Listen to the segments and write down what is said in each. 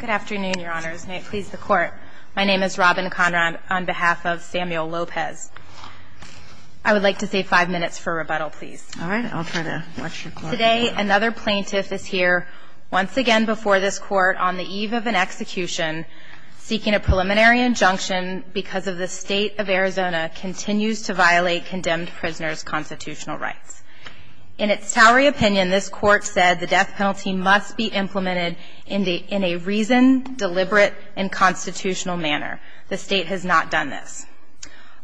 Good afternoon, your honors. May it please the court. My name is Robin Conrad on behalf of Samuel Lopez. I would like to say five minutes for rebuttal, please. All right. I'll try to watch your clock. Today, another plaintiff is here once again before this court on the eve of an execution seeking a preliminary injunction because of the state of Arizona continues to violate condemned prisoners' constitutional rights. In its towery opinion, this court said the death penalty must be implemented in a reasoned, deliberate, and constitutional manner. The state has not done this.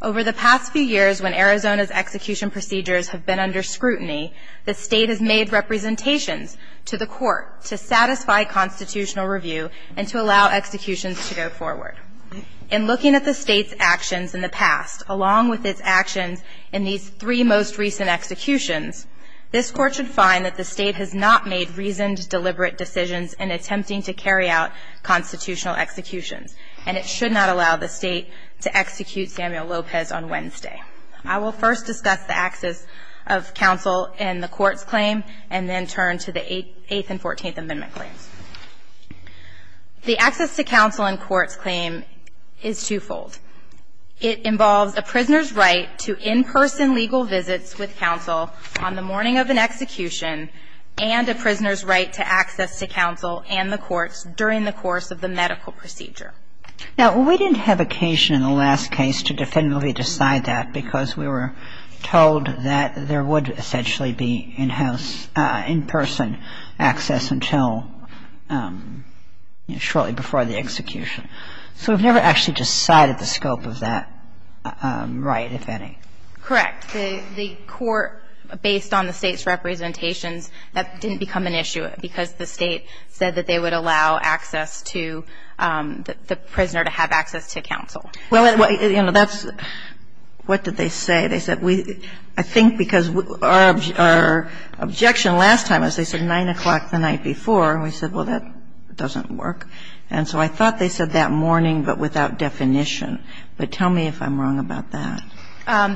Over the past few years, when Arizona's execution procedures have been under scrutiny, the state has made representations to the court to satisfy constitutional review and to allow executions to go forward. In looking at the state's actions in the past, along with its actions in these three most recent executions, this court should find that the state has not made reasoned, deliberate decisions in attempting to carry out constitutional executions, and it should not allow the state to execute Samuel Lopez on Wednesday. I will first discuss the access of counsel in the court's claim and then turn to the Eighth and Fourteenth Amendment claims. The access to counsel in court's claim is twofold. It involves a prisoner's right to in-person legal visits with counsel on the morning of an execution and a prisoner's right to access to counsel and the courts during the course of the medical procedure. Now, we didn't have occasion in the last case to definitively decide that because we were told that there would essentially be in-house, in-person access until, you know, shortly before the execution. So we've never actually decided the scope of that right, if any. Correct. The court, based on the state's representations, that didn't become an issue because the state said that they would allow access to the prisoner to have access to counsel. Well, you know, that's what did they say? They said we – I think because our objection last time was they said 9 o'clock the night before, and we said, well, that doesn't work. And so I thought they said that morning but without definition. But tell me if I'm wrong about that.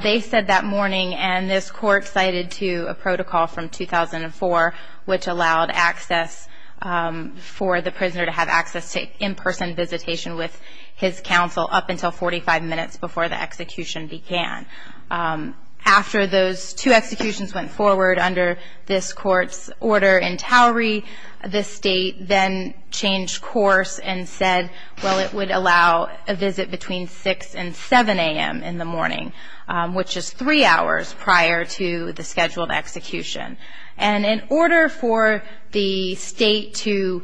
They said that morning, and this Court cited to a protocol from 2004 which allowed access for the prisoner to have access to in-person visitation with his counsel up until 45 minutes before the execution began. After those two executions went forward under this Court's order in towery, the state then changed course and said, well, it would allow a visit between 6 and 7 a.m. in the morning, which is three hours prior to the scheduled execution. And in order for the state to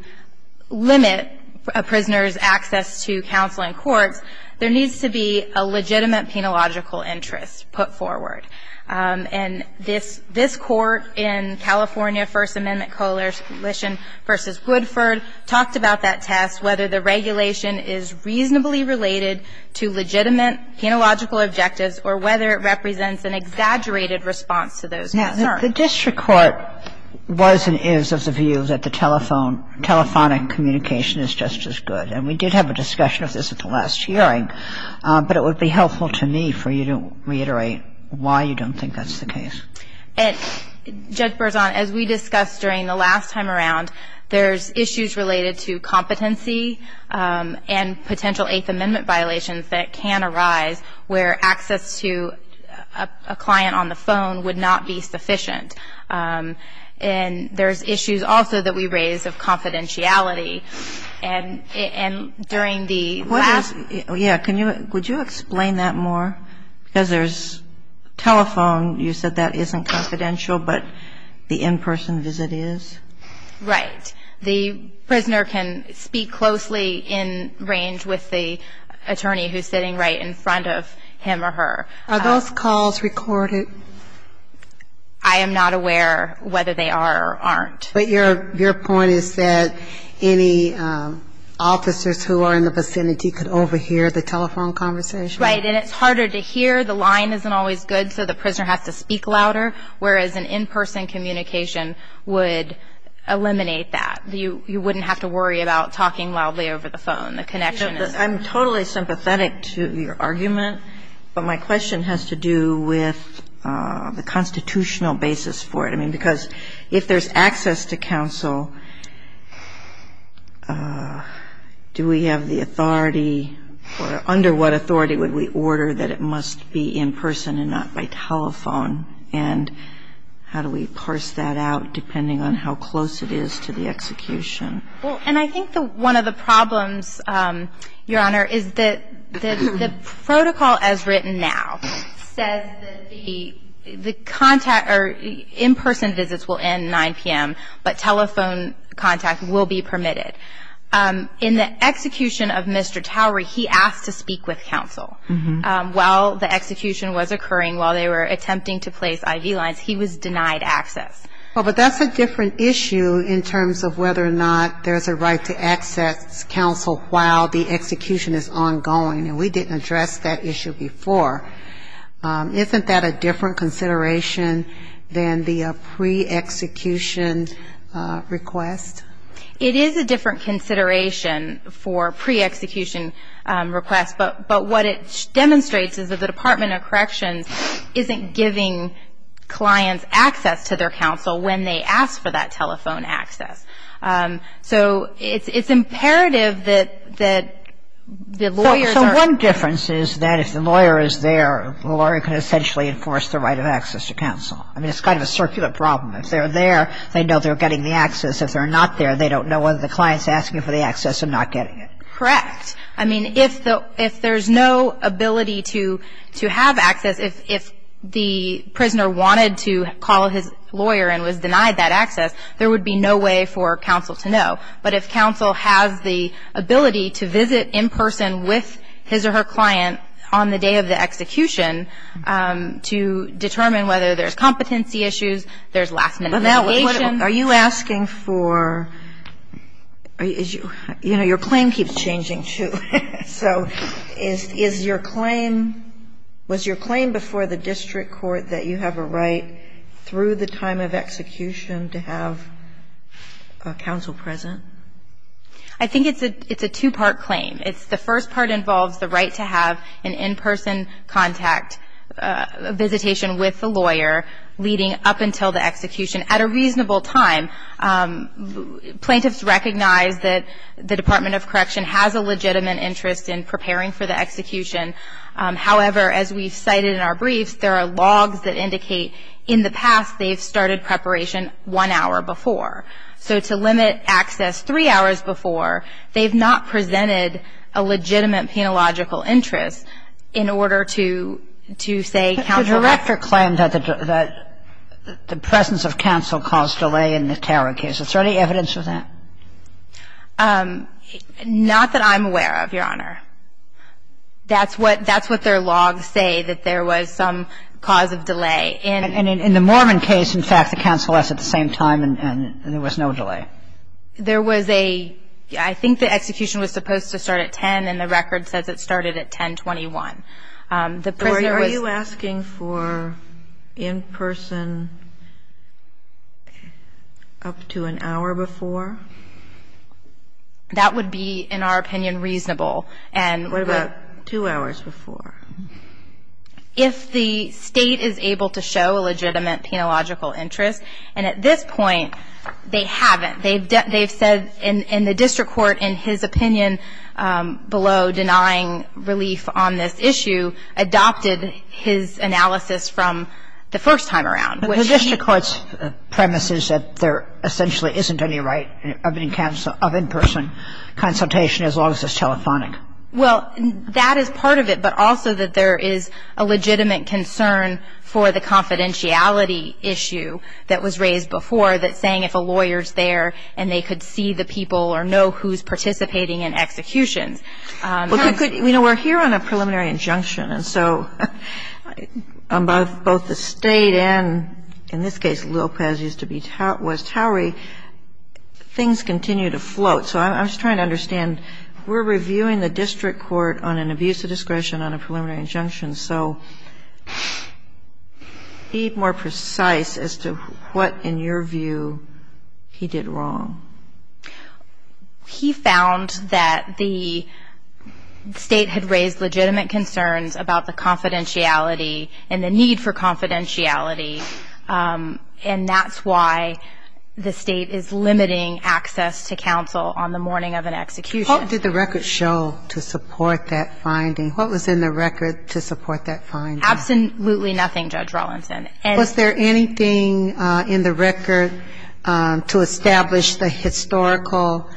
limit a prisoner's access to counsel in courts, there needs to be a legitimate penological interest put forward. And this Court in California First Amendment Coalition v. Woodford talked about that test, whether the regulation is reasonably related to legitimate penological objectives or whether it represents an exaggerated response to those concerns. I'm sorry. The district court was and is of the view that the telephone, telephonic communication is just as good. And we did have a discussion of this at the last hearing, but it would be helpful to me for you to reiterate why you don't think that's the case. And, Judge Berzon, as we discussed during the last time around, there's issues related to competency and potential Eighth Amendment violations that can arise where access to a client on the phone would not be sufficient. And there's issues also that we raise of confidentiality. And during the last ---- Yeah. Could you explain that more? Because there's telephone. You said that isn't confidential, but the in-person visit is. Right. The prisoner can speak closely in range with the attorney who's sitting right in front of him or her. Are those calls recorded? I am not aware whether they are or aren't. But your point is that any officers who are in the vicinity could overhear the telephone conversation? Right. And it's harder to hear. The line isn't always good, so the prisoner has to speak louder, whereas an in-person communication would eliminate that. You wouldn't have to worry about talking loudly over the phone. The connection is there. I'm totally sympathetic to your argument, but my question has to do with the constitutional basis for it. I mean, because if there's access to counsel, do we have the authority or under what authority would we order that it must be in person and not by telephone? And how do we parse that out depending on how close it is to the execution? Well, and I think one of the problems, Your Honor, is that the protocol as written now says that the contact or in-person visits will end 9 p.m., but telephone contact will be permitted. In the execution of Mr. Towery, he asked to speak with counsel while the execution was occurring, while they were attempting to place I.V. lines. He was denied access. But that's a different issue in terms of whether or not there's a right to access counsel while the execution is ongoing, and we didn't address that issue before. Isn't that a different consideration than the pre-execution request? It is a different consideration for pre-execution requests, but what it demonstrates is that the Department of Corrections isn't giving clients access to their counsel when they ask for that telephone access. So it's imperative that the lawyers are ‑‑ So one difference is that if the lawyer is there, the lawyer can essentially enforce the right of access to counsel. I mean, it's kind of a circular problem. If they're there, they know they're getting the access. If they're not there, they don't know whether the client's asking for the access or not getting it. Correct. I mean, if there's no ability to have access, if the prisoner wanted to call his lawyer and was denied that access, there would be no way for counsel to know. But if counsel has the ability to visit in person with his or her client on the day of the execution to determine whether there's competency issues, there's last‑minute litigation. Are you asking for ‑‑ you know, your claim keeps changing, too. So is your claim ‑‑ was your claim before the district court that you have a right through the time of execution to have counsel present? I think it's a two‑part claim. The first part involves the right to have an in‑person contact, a visitation with the lawyer leading up until the execution. At a reasonable time, plaintiffs recognize that the Department of Correction has a legitimate interest in preparing for the execution. However, as we've cited in our briefs, there are logs that indicate in the past they've started preparation one hour before. So to limit access three hours before, they've not presented a legitimate penological interest in order to say counsel ‑‑ So does your claim that the presence of counsel caused delay in the Tara case? Is there any evidence of that? Not that I'm aware of, Your Honor. That's what their logs say, that there was some cause of delay. And in the Mormon case, in fact, the counsel was at the same time and there was no delay. There was a ‑‑ I think the execution was supposed to start at 10, and the record says it started at 10.21. So are you asking for in‑person up to an hour before? That would be, in our opinion, reasonable. What about two hours before? If the state is able to show a legitimate penological interest. And at this point, they haven't. They've said in the district court, in his opinion, below denying relief on this issue, adopted his analysis from the first time around. The district court's premise is that there essentially isn't any right of in‑person consultation as long as it's telephonic. Well, that is part of it, but also that there is a legitimate concern for the confidentiality issue that was raised before, that saying if a lawyer's there and they could see the people or know who's participating in executions. You know, we're here on a preliminary injunction, and so on both the state and, in this case, Lopez used to be West Howard, things continue to float. So I'm just trying to understand, we're reviewing the district court on an abuse of discretion on a preliminary injunction, so be more precise as to what, in your view, he did wrong. He found that the state had raised legitimate concerns about the confidentiality and the need for confidentiality, and that's why the state is limiting access to counsel on the morning of an execution. What did the record show to support that finding? What was in the record to support that finding? Absolutely nothing, Judge Rawlinson. Was there anything in the record to establish the historical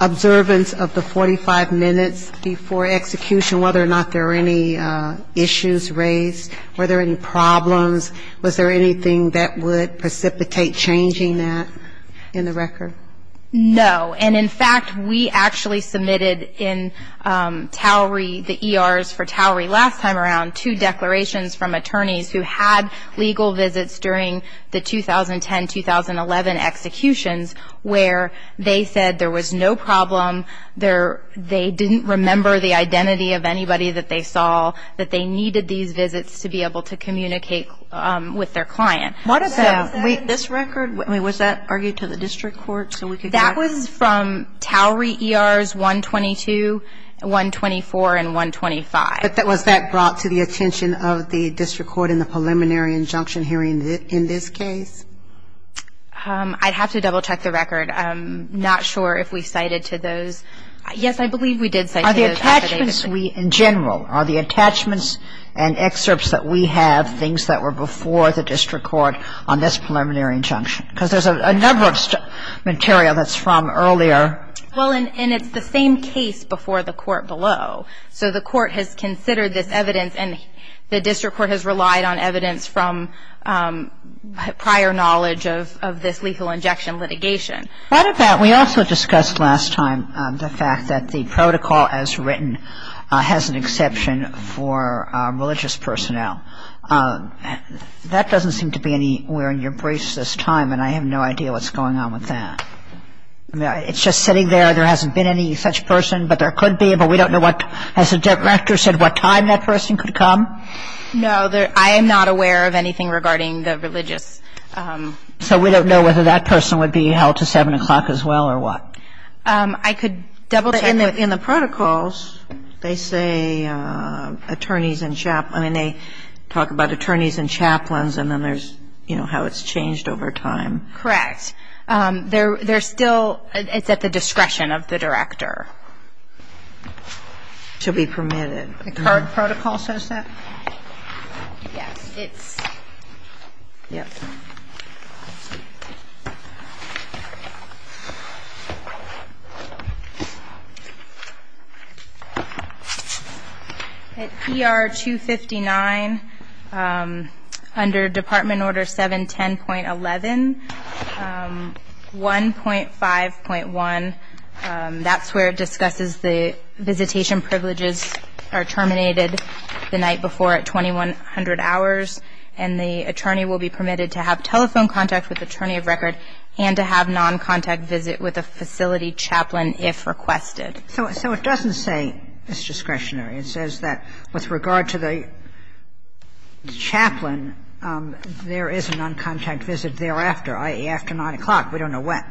observance of the 45 minutes before execution, whether or not there were any issues raised, were there any problems? Was there anything that would precipitate changing that in the record? No. And, in fact, we actually submitted in TOWERI, the ERs for TOWERI last time around, two declarations from attorneys who had legal visits during the 2010-2011 executions where they said there was no problem, they didn't remember the identity of anybody that they saw, that they needed these visits to be able to communicate with their client. What about this record? I mean, was that argued to the district court so we could get it? That was from TOWERI ERs 122, 124, and 125. But was that brought to the attention of the district court in the preliminary injunction hearing in this case? I'd have to double-check the record. I'm not sure if we cited to those. Yes, I believe we did cite to those. Are the attachments we, in general, are the attachments and excerpts that we have and things that were before the district court on this preliminary injunction? Because there's a number of material that's from earlier. Well, and it's the same case before the court below. So the court has considered this evidence and the district court has relied on evidence from prior knowledge of this lethal injection litigation. What about, we also discussed last time, the fact that the protocol as written has an exception for religious personnel. That doesn't seem to be anywhere in your briefs this time, and I have no idea what's going on with that. It's just sitting there. There hasn't been any such person, but there could be. But we don't know what, as the director said, what time that person could come. No, I am not aware of anything regarding the religious. So we don't know whether that person would be held to 7 o'clock as well or what? I could double-check. But in the protocols, they say attorneys and chaplains. I mean, they talk about attorneys and chaplains, and then there's, you know, how it's changed over time. Correct. There's still, it's at the discretion of the director to be permitted. The current protocol says that? Yes, it's. Yes. Thank you. At ER 259, under Department Order 710.11, 1.5.1, that's where it discusses the visitation privileges are terminated the night before at 2100 hours, and the attorney will be permitted to have telephone contact with attorney of record and to have non-contact visit with a facility chaplain if requested. So it doesn't say it's discretionary. It says that with regard to the chaplain, there is a non-contact visit thereafter, i.e., after 9 o'clock. We don't know when.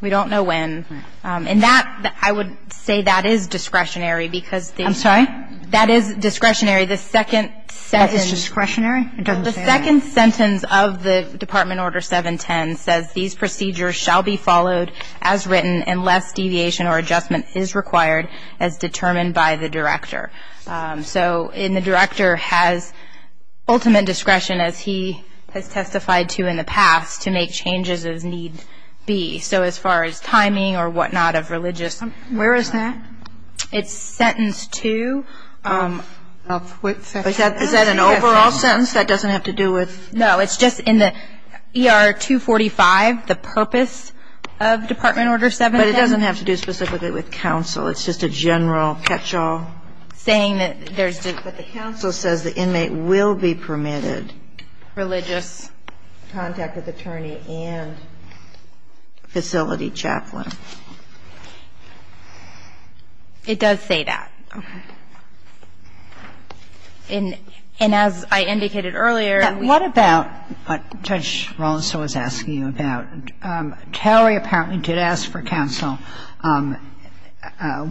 We don't know when. And that, I would say that is discretionary because the. I'm sorry? That is discretionary. The second sentence. That is discretionary. It doesn't say that. The second sentence of the Department Order 710 says, these procedures shall be followed as written unless deviation or adjustment is required as determined by the director. So the director has ultimate discretion, as he has testified to in the past, to make changes as needs be. So as far as timing or whatnot of religious. Where is that? It's sentence two. Is that an overall sentence? That doesn't have to do with. No, it's just in the ER 245, the purpose of Department Order 710. But it doesn't have to do specifically with counsel. It's just a general catch-all. Saying that there's. But the counsel says the inmate will be permitted. Religious. Contact with attorney and facility chaplain. It does say that. Okay. And as I indicated earlier. What about what Judge Rollins was asking you about? Towery apparently did ask for counsel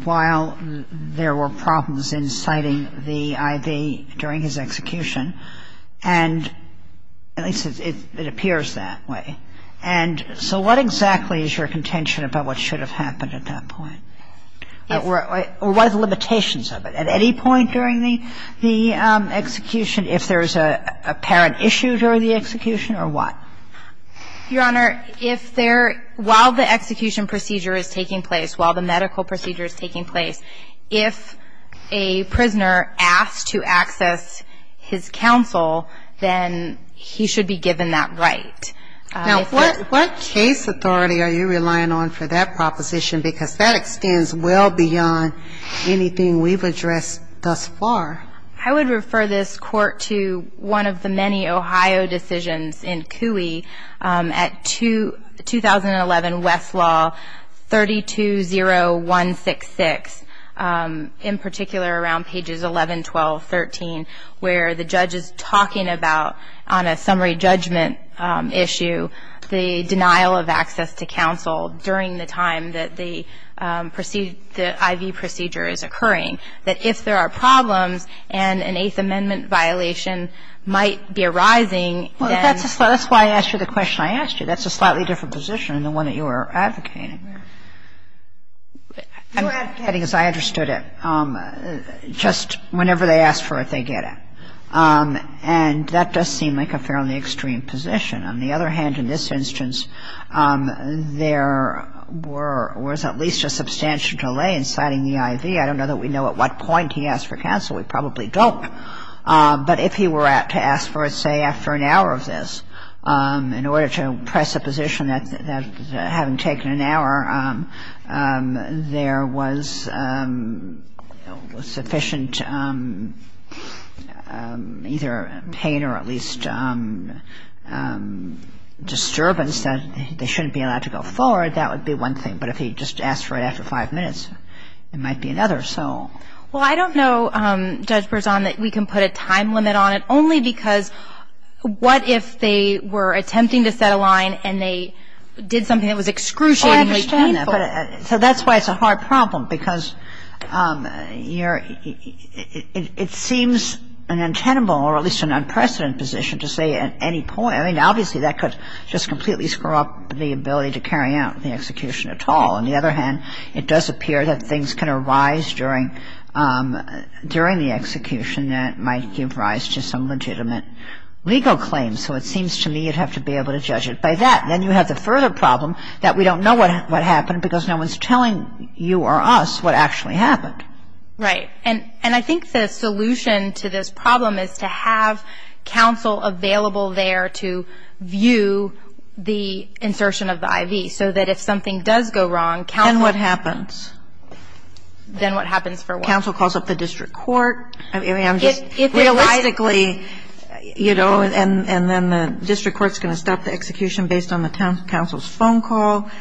while there were problems in citing the I.V. during his execution. And at least it appears that way. And so what exactly is your contention about what should have happened at that point? Or what are the limitations of it? At any point during the execution, if there's an apparent issue during the execution or what? Your Honor, if there. While the execution procedure is taking place, while the medical procedure is taking place, if a prisoner asks to access his counsel, then he should be given that right. Now, what case authority are you relying on for that proposition? Because that extends well beyond anything we've addressed thus far. I would refer this Court to one of the many Ohio decisions in CUI at 2011 Westlaw 320166. In particular, around pages 11, 12, 13, where the judge is talking about on a summary judgment issue, the denial of access to counsel during the time that the I.V. procedure is occurring. That if there are problems and an Eighth Amendment violation might be arising. Well, that's why I asked you the question I asked you. That's a slightly different position than the one that you were advocating. Your advocating, as I understood it, just whenever they ask for it, they get it. And that does seem like a fairly extreme position. On the other hand, in this instance, there was at least a substantial delay in citing the I.V. I don't know that we know at what point he asked for counsel. We probably don't. But if he were to ask for it, say, after an hour of this, in order to press a position having taken an hour, there was sufficient either pain or at least disturbance that they shouldn't be allowed to go forward. That would be one thing. But if he just asked for it after five minutes, it might be another. Well, I don't know, Judge Berzon, that we can put a time limit on it. Only because what if they were attempting to set a line and they did something that was excruciatingly painful? I understand that. So that's why it's a hard problem, because it seems an untenable or at least an unprecedented position to say at any point. I mean, obviously, that could just completely screw up the ability to carry out the execution at all. On the other hand, it does appear that things can arise during the execution that might give rise to some legitimate legal claim. So it seems to me you'd have to be able to judge it by that. Then you have the further problem that we don't know what happened because no one's telling you or us what actually happened. Right. And I think the solution to this problem is to have counsel available there to view the insertion of the IV, so that if something does go wrong, counsel Then what happens? Then what happens for what? If the counsel calls up the district court, realistically, you know, and then the district court's going to stop the execution based on the counsel's phone call,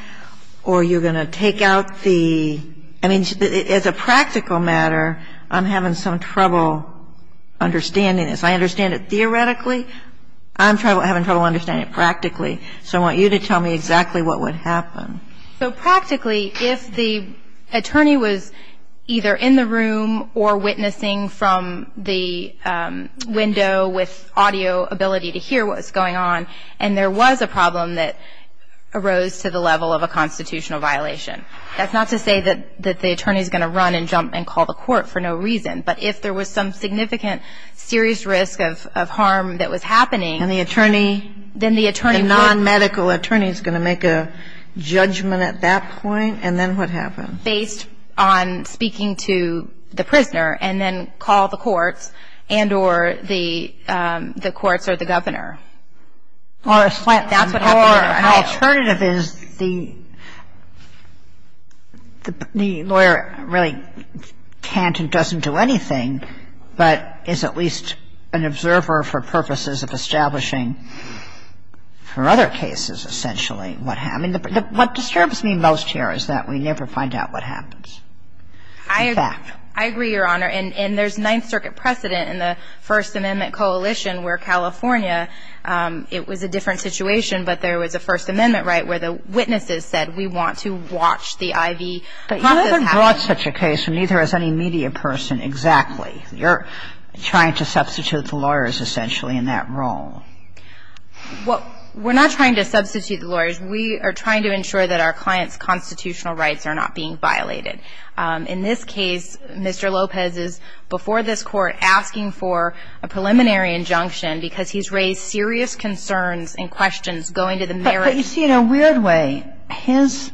or you're going to take out the — I mean, as a practical matter, I'm having some trouble understanding this. I understand it theoretically. I'm having trouble understanding it practically. So I want you to tell me exactly what would happen. So practically, if the attorney was either in the room or witnessing from the window with audio ability to hear what was going on, and there was a problem that arose to the level of a constitutional violation, that's not to say that the attorney's going to run and jump and call the court for no reason. But if there was some significant serious risk of harm that was happening, And the attorney — Then the attorney would — And then what happens? Based on speaking to the prisoner and then call the courts and or the courts or the governor. Or a slant. That's what happens. Or an alternative is the lawyer really can't and doesn't do anything, but is at least an observer for purposes of establishing for other cases, essentially, what happened. And what disturbs me most here is that we never find out what happens. In fact. I agree, Your Honor. And there's Ninth Circuit precedent in the First Amendment coalition where California, it was a different situation, but there was a First Amendment right where the witnesses said, we want to watch the IV. But you haven't brought such a case, neither has any media person, exactly. You're trying to substitute the lawyers, essentially, in that role. Well, we're not trying to substitute the lawyers. We are trying to ensure that our clients' constitutional rights are not being violated. In this case, Mr. Lopez is, before this Court, asking for a preliminary injunction because he's raised serious concerns and questions going to the merits. But you see, in a weird way, his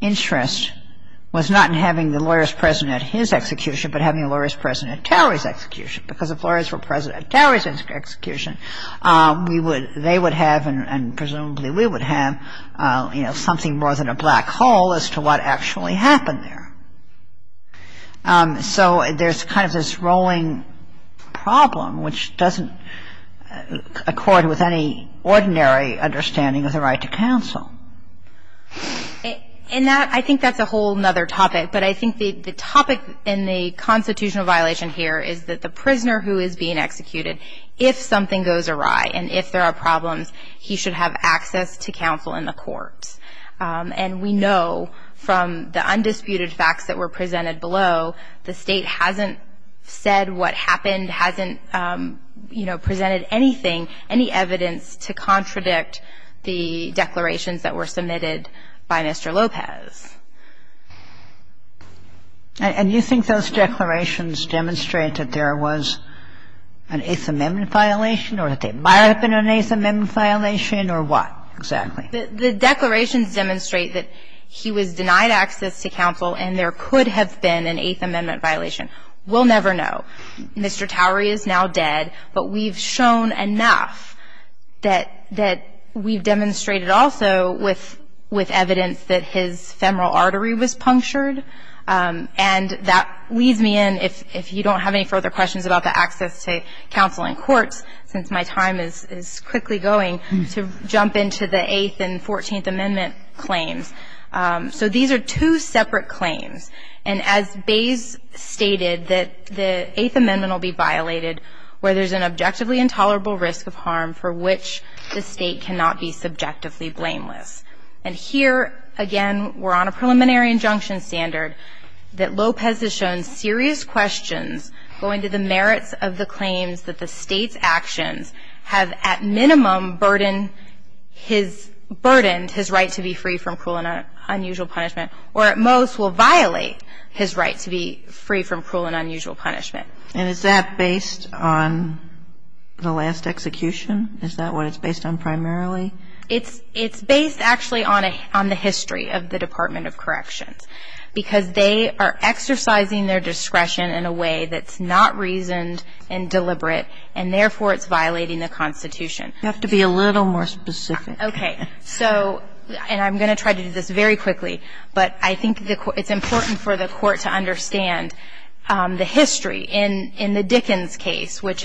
interest was not in having the lawyers present at his execution, but having the lawyers present at Terry's execution. Because if lawyers were present at Terry's execution, we would — you know, something more than a black hole as to what actually happened there. So there's kind of this rolling problem, which doesn't accord with any ordinary understanding of the right to counsel. And that — I think that's a whole other topic. But I think the topic in the constitutional violation here is that the prisoner who is being executed, if something goes awry and if there are problems, he should have access to counsel in the court. And we know from the undisputed facts that were presented below, the State hasn't said what happened, hasn't, you know, presented anything, any evidence to contradict the declarations that were submitted by Mr. Lopez. And you think those declarations demonstrate that there was an Eighth Amendment violation or that there might have been an Eighth Amendment violation or what, exactly? The declarations demonstrate that he was denied access to counsel and there could have been an Eighth Amendment violation. We'll never know. Mr. Towery is now dead, but we've shown enough that we've demonstrated also with evidence that his femoral artery was punctured. And that leads me in, if you don't have any further questions about the access to counsel in courts, since my time is quickly going, to jump into the Eighth and Fourteenth Amendment claims. So these are two separate claims. And as Bays stated, that the Eighth Amendment will be violated where there's an objectively intolerable risk of harm for which the State cannot be subjectively blameless. And here, again, we're on a preliminary injunction standard that Lopez has shown serious questions going to the merits of the claims that the State's actions have at minimum burdened his right to be free from cruel and unusual punishment, or at most will violate his right to be free from cruel and unusual punishment. And is that based on the last execution? Is that what it's based on primarily? It's based actually on the history of the Department of Corrections. Because they are exercising their discretion in a way that's not reasoned and deliberate, and therefore it's violating the Constitution. You have to be a little more specific. Okay. So, and I'm going to try to do this very quickly. But I think it's important for the Court to understand the history. In the Dickens case, which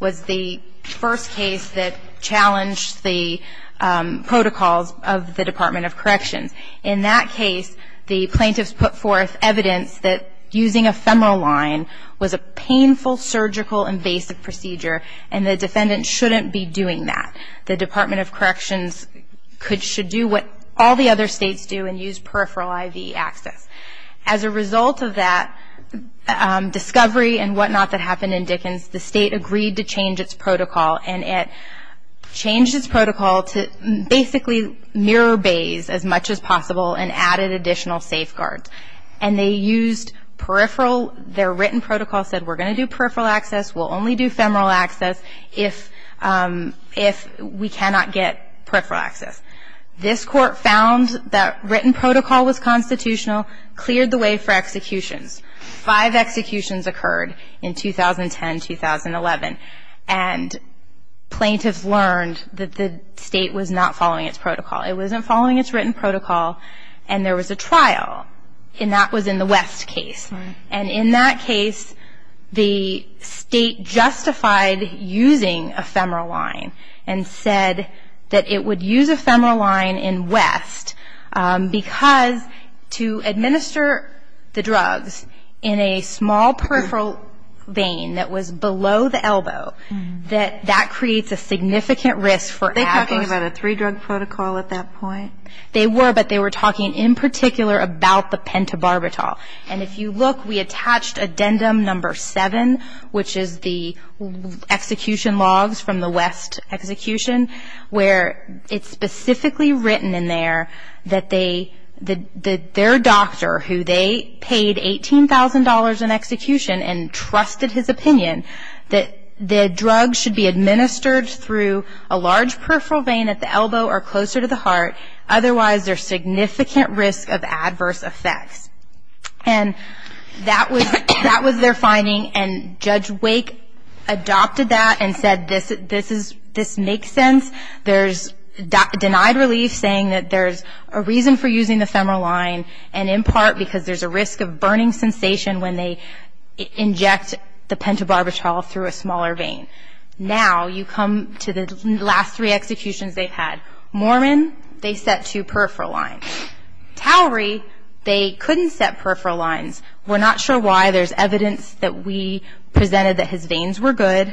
was the first case that challenged the protocols of the Department of Corrections, in that case, the plaintiffs put forth evidence that using a femoral line was a painful surgical and basic procedure, and the defendant shouldn't be doing that. The Department of Corrections should do what all the other States do and use peripheral IV access. As a result of that discovery and whatnot that happened in Dickens, the State agreed to change its protocol. And it changed its protocol to basically mirror Bayes as much as possible and added additional safeguards. And they used peripheral, their written protocol said we're going to do peripheral access, we'll only do femoral access if we cannot get peripheral access. This Court found that written protocol was constitutional, cleared the way for executions. Five executions occurred in 2010, 2011. And plaintiffs learned that the State was not following its protocol. It wasn't following its written protocol. And there was a trial, and that was in the West case. And in that case, the State justified using a femoral line and said that it would use a femoral line in West because to administer the drugs in a small peripheral vein that was below the elbow, that creates a significant risk for adverse. Are they talking about a three-drug protocol at that point? They were, but they were talking in particular about the pentobarbital. And if you look, we attached addendum number seven, which is the execution logs from the West execution, where it's specifically written in there that their doctor, who they paid $18,000 in execution and trusted his opinion, that the drugs should be administered through a large peripheral vein at the elbow or closer to the heart, otherwise there's significant risk of adverse effects. And that was their finding. And Judge Wake adopted that and said this makes sense. There's denied relief saying that there's a reason for using the femoral line, and in part because there's a risk of burning sensation when they inject the pentobarbital through a smaller vein. Now you come to the last three executions they've had. Mormon, they set two peripheral lines. Towery, they couldn't set peripheral lines. We're not sure why. There's evidence that we presented that his veins were good.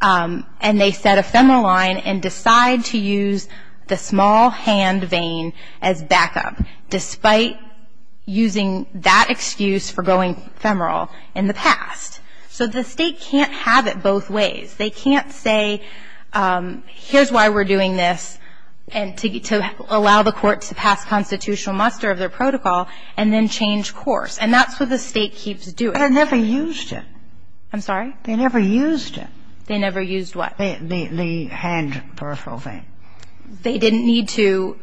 And they set a femoral line and decide to use the small hand vein as backup, despite using that excuse for going femoral in the past. So the state can't have it both ways. They can't say, here's why we're doing this, and to allow the court to pass constitutional muster of their protocol and then change course. And that's what the State keeps doing. But they never used it. I'm sorry? They never used it. They never used what? The hand peripheral vein. They didn't need to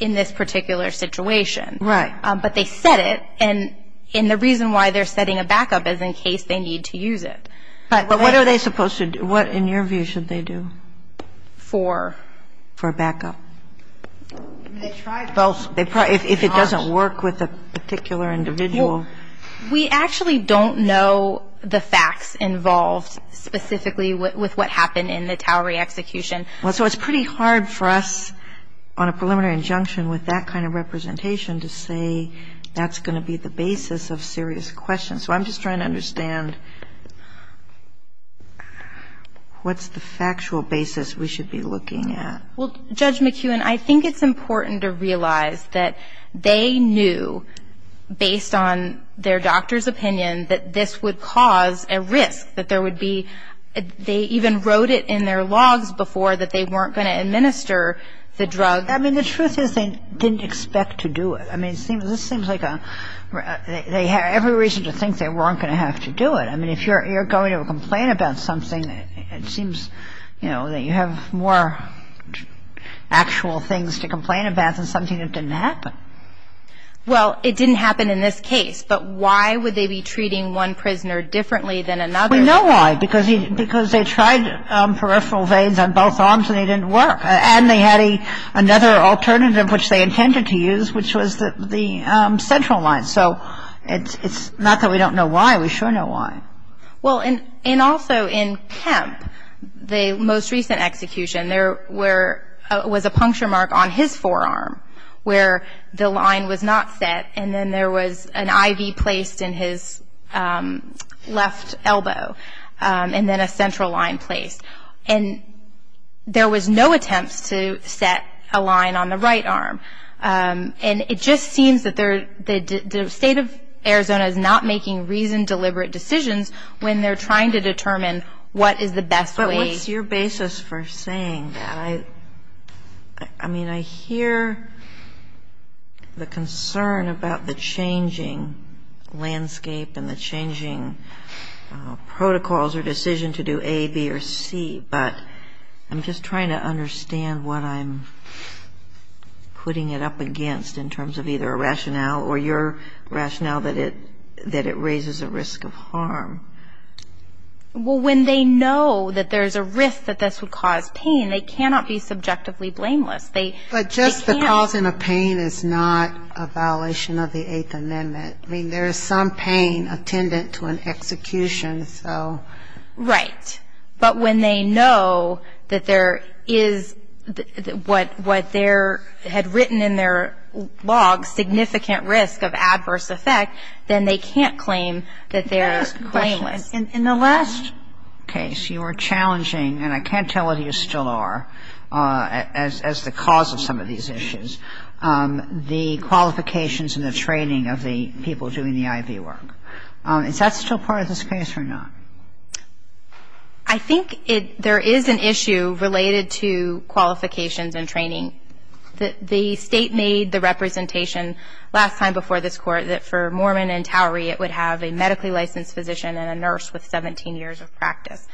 in this particular situation. Right. But they set it, and the reason why they're setting a backup is in case they need to use it. But what are they supposed to do? What, in your view, should they do? For? For backup. They try both. If it doesn't work with a particular individual. Well, we actually don't know the facts involved specifically with what happened in the Towery execution. Well, so it's pretty hard for us on a preliminary injunction with that kind of representation to say that's going to be the basis of serious questions. So I'm just trying to understand what's the factual basis we should be looking at. Well, Judge McEwen, I think it's important to realize that they knew, based on their doctor's opinion, that this would cause a risk, that there would be, they even wrote it in their logs before that they weren't going to administer the drug. I mean, the truth is they didn't expect to do it. I mean, this seems like a, they had every reason to think they weren't going to have to do it. I mean, if you're going to complain about something, it seems, you know, that you have more actual things to complain about than something that didn't happen. Well, it didn't happen in this case. But why would they be treating one prisoner differently than another? We know why. Because they tried peripheral veins on both arms and they didn't work. And they had another alternative which they intended to use, which was the central line. So it's not that we don't know why. We sure know why. Well, and also in Kemp, the most recent execution, there was a puncture mark on his forearm where the line was not set and then there was an IV placed in his left elbow and then a central line placed. And there was no attempt to set a line on the right arm. And it just seems that the state of Arizona is not making reasoned, deliberate decisions when they're trying to determine what is the best way. But what's your basis for saying that? I mean, I hear the concern about the changing landscape and the changing protocols or decision to do A, B, or C. But I'm just trying to understand what I'm putting it up against in terms of either a rationale or your rationale that it raises a risk of harm. Well, when they know that there's a risk that this would cause pain, they cannot be subjectively blameless. But just the cause of the pain is not a violation of the Eighth Amendment. I mean, there is some pain attendant to an execution. Right. But when they know that there is what they had written in their log, significant risk of adverse effect, then they can't claim that they're blameless. In the last case, you were challenging, and I can't tell whether you still are, as the cause of some of these issues, the qualifications and the training of the people doing the IV work. Is that still part of this case or not? I think there is an issue related to qualifications and training. The State made the representation last time before this Court that for Mormon and Towery it would have a medically licensed physician and a nurse with 17 years of practice.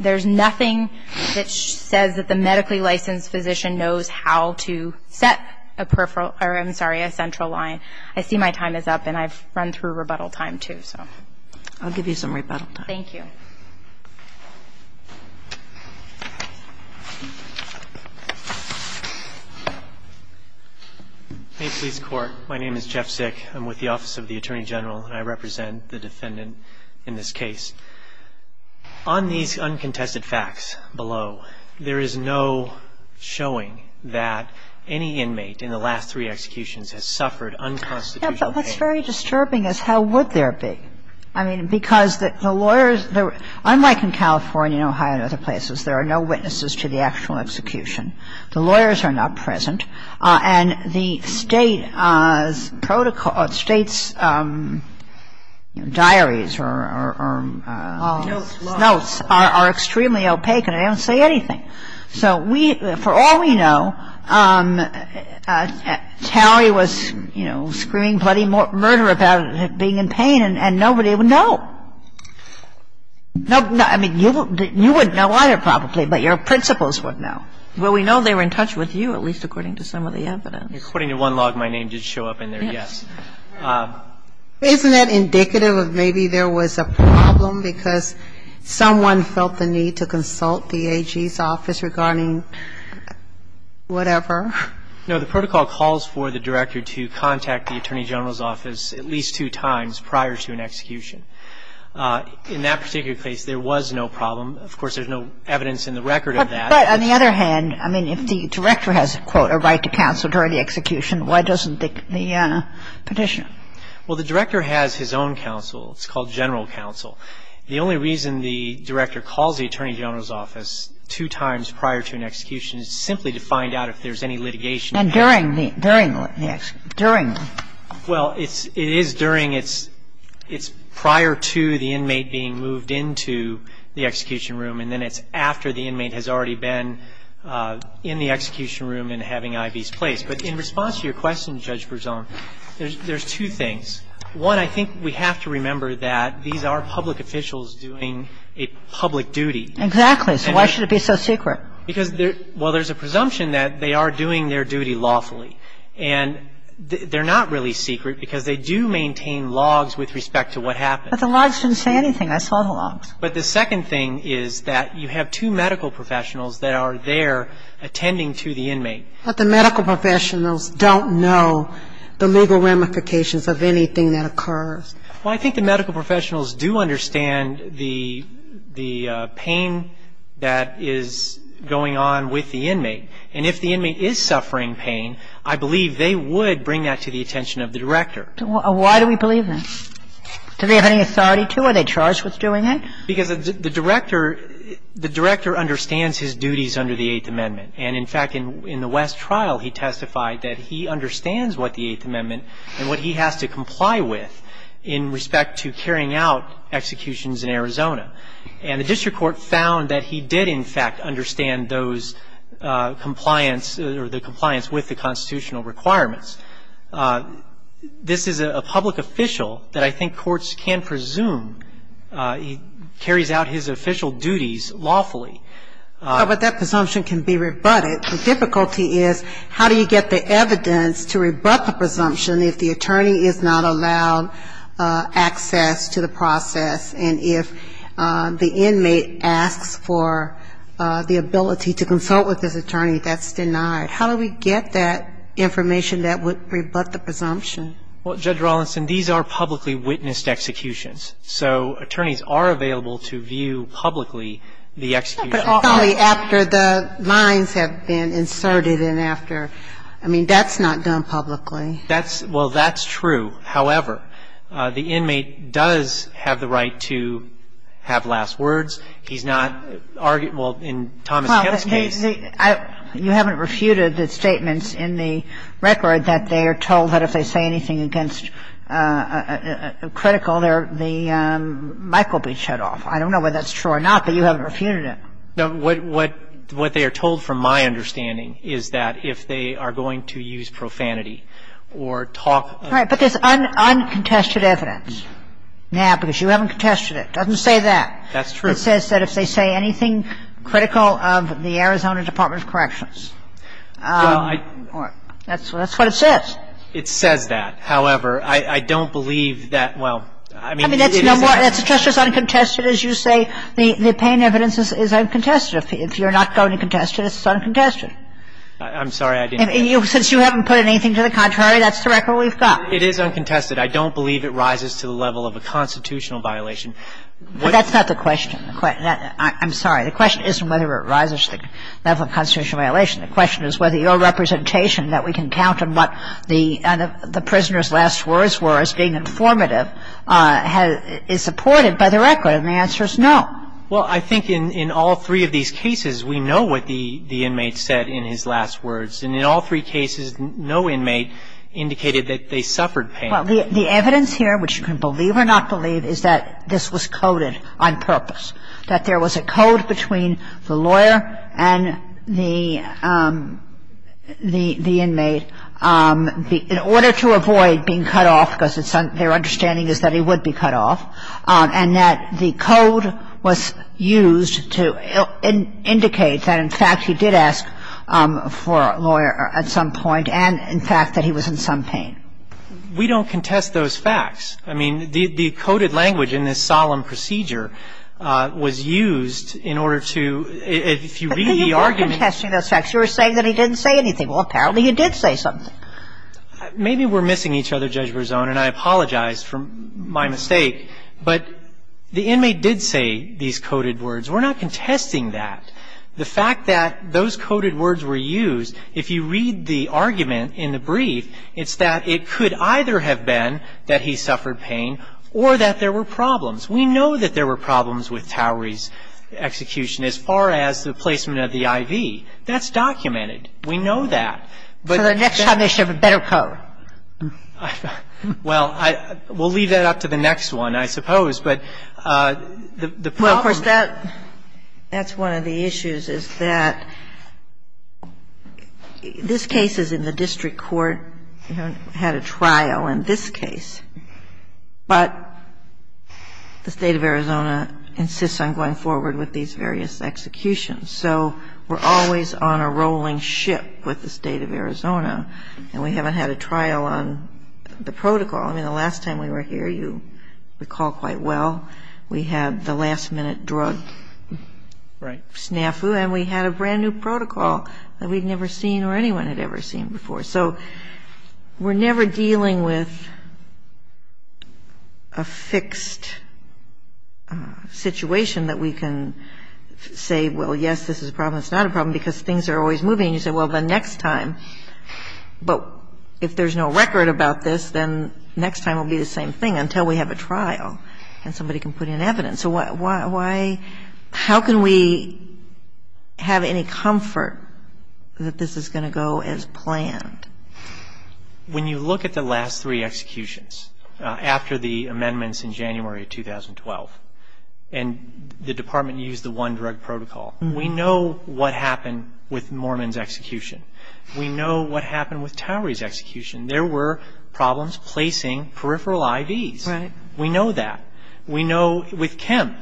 There's nothing that says that the medically licensed physician knows how to set a peripheral or, I'm sorry, a central line. I see my time is up, and I've run through rebuttal time, too, so. I'll give you some rebuttal time. Thank you. Hey, police court. My name is Jeff Sick. I'm with the Office of the Attorney General, and I represent the defendant in this case. On these uncontested facts below, there is no showing that any inmate in the last three executions has suffered unconstitutional pain. Yeah, but what's very disturbing is how would there be? I mean, because the lawyers, unlike in California and Ohio and other places, there are no witnesses to the actual execution. The lawyers are not present. And the State's protocol, State's diaries or notes are extremely opaque, and they don't say anything. So we, for all we know, Tally was, you know, screaming bloody murder about being in pain, and nobody would know. I mean, you wouldn't know either, probably, but your principals would know. Well, we know they were in touch with you, at least according to some of the evidence. According to one log, my name did show up in there, yes. Yes. Isn't that indicative of maybe there was a problem because someone felt the need to consult the AG's office regarding whatever? No. The protocol calls for the director to contact the Attorney General's office at least two times prior to an execution. In that particular case, there was no problem. Of course, there's no evidence in the record of that. But on the other hand, I mean, if the director has, quote, a right to counsel during the execution, why doesn't the petitioner? Well, the director has his own counsel. It's called general counsel. The only reason the director calls the Attorney General's office two times prior to an execution is simply to find out if there's any litigation. And during the execution. During. Well, it is during. It's prior to the inmate being moved into the execution room, and then it's after the inmate has already been in the execution room and having IVs placed. But in response to your question, Judge Berzon, there's two things. One, I think we have to remember that these are public officials doing a public duty. Exactly. So why should it be so secret? Because there's a presumption that they are doing their duty lawfully. And they're not really secret because they do maintain logs with respect to what happened. But the logs didn't say anything. I saw the logs. But the second thing is that you have two medical professionals that are there attending to the inmate. But the medical professionals don't know the legal ramifications of anything that occurs. Well, I think the medical professionals do understand the pain that is going on with the inmate. And if the inmate is suffering pain, I believe they would bring that to the attention of the director. Why do we believe that? Do they have any authority to? Are they charged with doing it? Because the director understands his duties under the Eighth Amendment. And, in fact, in the West trial, he testified that he understands what the Eighth Amendment and what he has to comply with in respect to carrying out executions in Arizona. And the district court found that he did, in fact, understand those compliance or the compliance with the constitutional requirements. This is a public official that I think courts can presume carries out his official duties lawfully. But that presumption can be rebutted. The difficulty is how do you get the evidence to rebut the presumption if the attorney is not allowed access to the process? And if the inmate asks for the ability to consult with this attorney, that's denied. How do we get that information that would rebut the presumption? Well, Judge Rawlinson, these are publicly witnessed executions. So attorneys are available to view publicly the execution. But only after the lines have been inserted and after. I mean, that's not done publicly. That's – well, that's true. However, the inmate does have the right to have last words. He's not argued – well, in Thomas Kemp's case. Well, you haven't refuted the statements in the record that they are told that if they say anything against critical, the mic will be shut off. I don't know whether that's true or not, but you haven't refuted it. No. What they are told, from my understanding, is that if they are going to use profanity or talk of – Right. But there's uncontested evidence. Now, because you haven't contested it, it doesn't say that. That's true. It says that if they say anything critical of the Arizona Department of Corrections. That's what it says. It says that. However, I don't believe that – well, I mean, it is uncontested. I mean, that's just as uncontested as you say the pain evidence is uncontested. If you're not going to contest it, it's uncontested. I'm sorry. I didn't get that. Since you haven't put anything to the contrary, that's the record we've got. It is uncontested. I don't believe it rises to the level of a constitutional violation. That's not the question. I'm sorry. The question isn't whether it rises to the level of a constitutional violation. The question is whether your representation, that we can count on what the prisoner's last words were as being informative, is supported by the record. And the answer is no. Well, I think in all three of these cases, we know what the inmate said in his last words. And in all three cases, no inmate indicated that they suffered pain. Well, the evidence here, which you can believe or not believe, is that this was coded on purpose. That there was a code between the lawyer and the inmate in order to avoid being cut off, because their understanding is that he would be cut off, and that the code was used to indicate that, in fact, he did ask for a lawyer at some point, and, in fact, that he was in some pain. We don't contest those facts. I mean, the coded language in this solemn procedure was used in order to, if you read But you weren't contesting those facts. You were saying that he didn't say anything. Well, apparently, you did say something. Maybe we're missing each other, Judge Berzon, and I apologize for my mistake, but the inmate did say these coded words. We're not contesting that. It's not that he didn't say anything. It's that it could either have been that he suffered pain or that there were problems. We know that there were problems with Towery's execution as far as the placement of the IV. That's documented. We know that. But that's the best part. For the next time, they should have a better code. Well, we'll leave that up to the next one, I suppose. But the problem is that. But that's one of the issues, is that this case is in the district court. We haven't had a trial in this case. But the State of Arizona insists on going forward with these various executions. So we're always on a rolling ship with the State of Arizona, and we haven't had a trial on the protocol. I mean, the last time we were here, you recall quite well, we had the last-minute drug snafu, and we had a brand-new protocol that we'd never seen or anyone had ever seen before. So we're never dealing with a fixed situation that we can say, well, yes, this is a problem, it's not a problem, because things are always moving. And you say, well, the next time. But if there's no record about this, then next time will be the same thing until we have a trial and somebody can put in evidence. So why, how can we have any comfort that this is going to go as planned? When you look at the last three executions, after the amendments in January of 2012, and the Department used the one-drug protocol, we know what happened with Moorman's execution. We know what happened with Towery's execution. There were problems placing peripheral IVs. We know that. We know with Kemp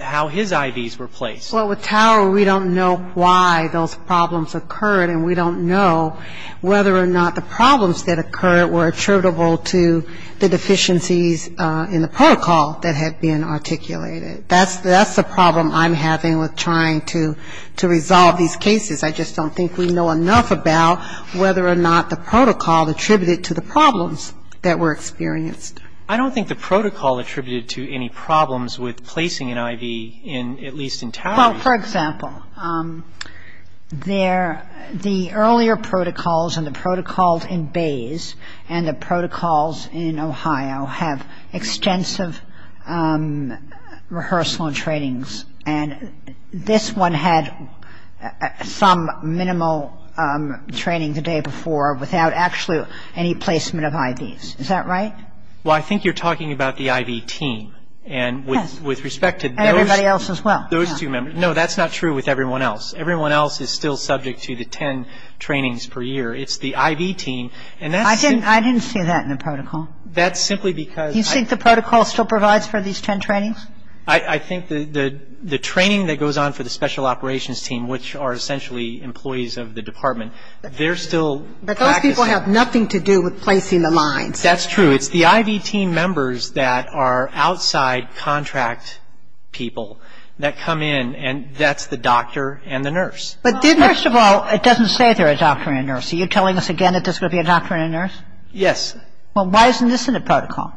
how his IVs were placed. Well, with Towery, we don't know why those problems occurred, and we don't know whether or not the problems that occurred were attributable to the deficiencies in the protocol that had been articulated. That's the problem I'm having with trying to resolve these cases. I just don't think we know enough about whether or not the protocol attributed to the problems that were experienced. I don't think the protocol attributed to any problems with placing an IV in at least in Towery. Well, for example, the earlier protocols and the protocols in Bays and the protocols in Ohio have extensive rehearsal and trainings. And this one had some minimal training the day before without actually any placement of IVs. Is that right? Well, I think you're talking about the IV team. Yes. And with respect to those. And everybody else as well. Those two members. No, that's not true with everyone else. Everyone else is still subject to the ten trainings per year. It's the IV team, and that's simply. I didn't see that in the protocol. That's simply because. You think the protocol still provides for these ten trainings? I think the training that goes on for the special operations team, which are essentially employees of the department, they're still practicing. But those people have nothing to do with placing the lines. That's true. It's the IV team members that are outside contract people that come in, and that's the doctor and the nurse. First of all, it doesn't say they're a doctor and a nurse. Are you telling us again that this would be a doctor and a nurse? Yes. Well, why isn't this in the protocol?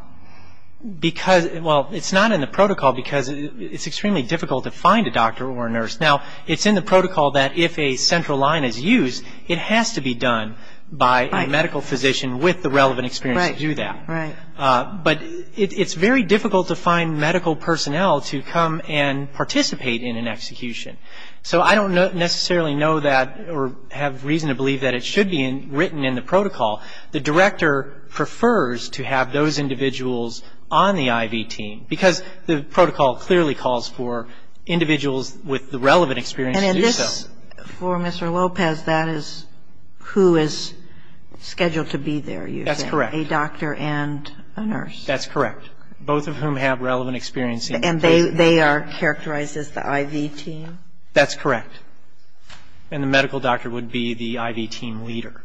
Because, well, it's not in the protocol because it's extremely difficult to find a doctor or a nurse. Now, it's in the protocol that if a central line is used, it has to be done by a medical physician with the relevant experience to do that. Right. But it's very difficult to find medical personnel to come and participate in an execution. So I don't necessarily know that or have reason to believe that it should be written in the protocol. The director prefers to have those individuals on the IV team, because the protocol clearly calls for individuals with the relevant experience to do so. For Mr. Lopez, that is who is scheduled to be there, you're saying? That's correct. A doctor and a nurse. That's correct, both of whom have relevant experience. And they are characterized as the IV team? That's correct. And the medical doctor would be the IV team leader.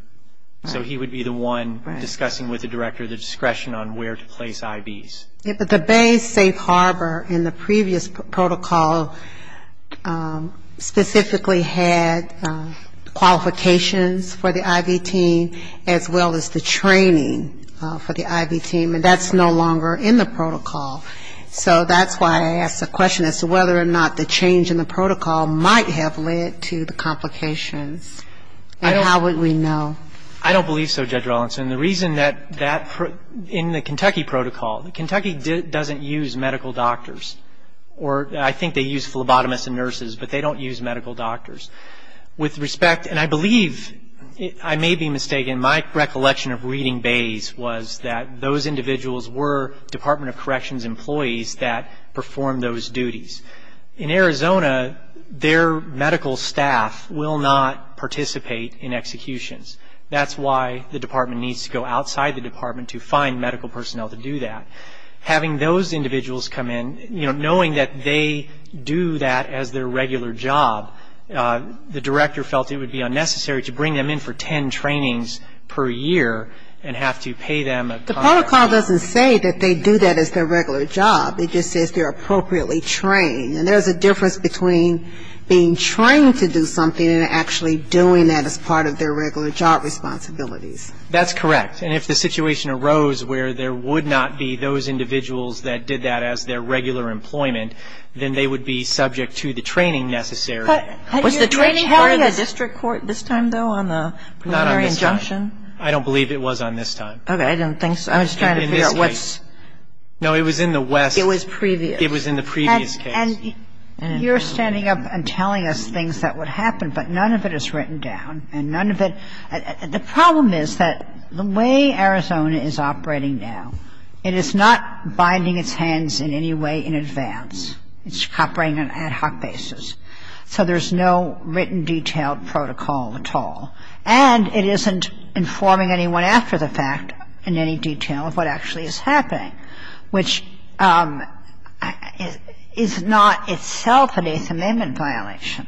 So he would be the one discussing with the director the discretion on where to place IVs. But the Bay Safe Harbor in the previous protocol specifically had qualifications for the IV team, as well as the training for the IV team, and that's no longer in the protocol. So that's why I asked the question as to whether or not the change in the protocol might have led to the complications and how would we know? I don't believe so, Judge Rawlinson. The reason that in the Kentucky protocol, Kentucky doesn't use medical doctors, or I think they use phlebotomists and nurses, but they don't use medical doctors. With respect, and I believe, I may be mistaken, my recollection of reading Bays was that those individuals were Department of Corrections employees that performed those duties. In Arizona, their medical staff will not participate in executions. That's why the department needs to go outside the department to find medical personnel to do that. Having those individuals come in, you know, knowing that they do that as their regular job, the director felt it would be unnecessary to bring them in for ten trainings per year and have to pay them a The protocol doesn't say that they do that as their regular job. It just says they're appropriately trained, and there's a difference between being trained to do something and actually doing that as part of their regular job responsibilities. That's correct, and if the situation arose where there would not be those individuals that did that as their regular employment, then they would be subject to the training necessary. Was the training part of the district court this time, though, on the preliminary injunction? I don't believe it was on this time. Okay. I didn't think so. I'm just trying to figure out what's In this case. No, it was in the West. It was previous. It was in the previous case. And you're standing up and telling us things that would happen, but none of it is written down, and none of it The problem is that the way Arizona is operating now, it is not binding its hands in any way in advance. It's operating on an ad hoc basis. So there's no written, detailed protocol at all. And it isn't informing anyone after the fact in any detail of what actually is happening, which is not itself an Eighth Amendment violation,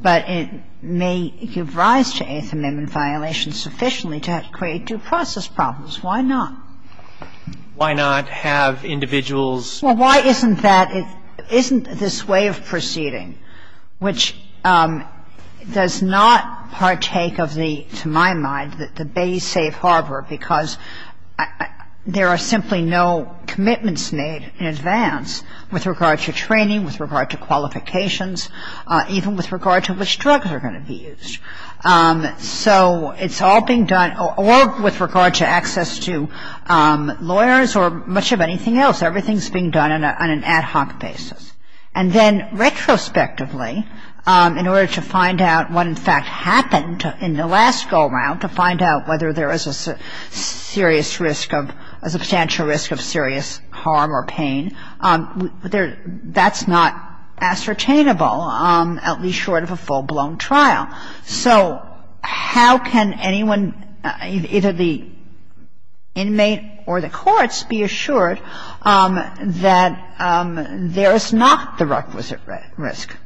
but it may give rise to Eighth Amendment violations sufficiently to create due process problems. Why not? Why not have individuals Well, why isn't that? Isn't this way of proceeding, which does not partake of the, to my mind, the Bay Safe Harbor, because there are simply no commitments made in advance with regard to training, with regard to qualifications, even with regard to which drugs are going to be used. So it's all being done, or with regard to access to lawyers or much of anything else. Everything is being done on an ad hoc basis. And then retrospectively, in order to find out what in fact happened in the last go-round, to find out whether there is a serious risk of, a substantial risk of serious harm or pain, that's not ascertainable, at least short of a full-blown trial. So how can anyone, either the inmate or the courts, be assured that there is not the requisite risk?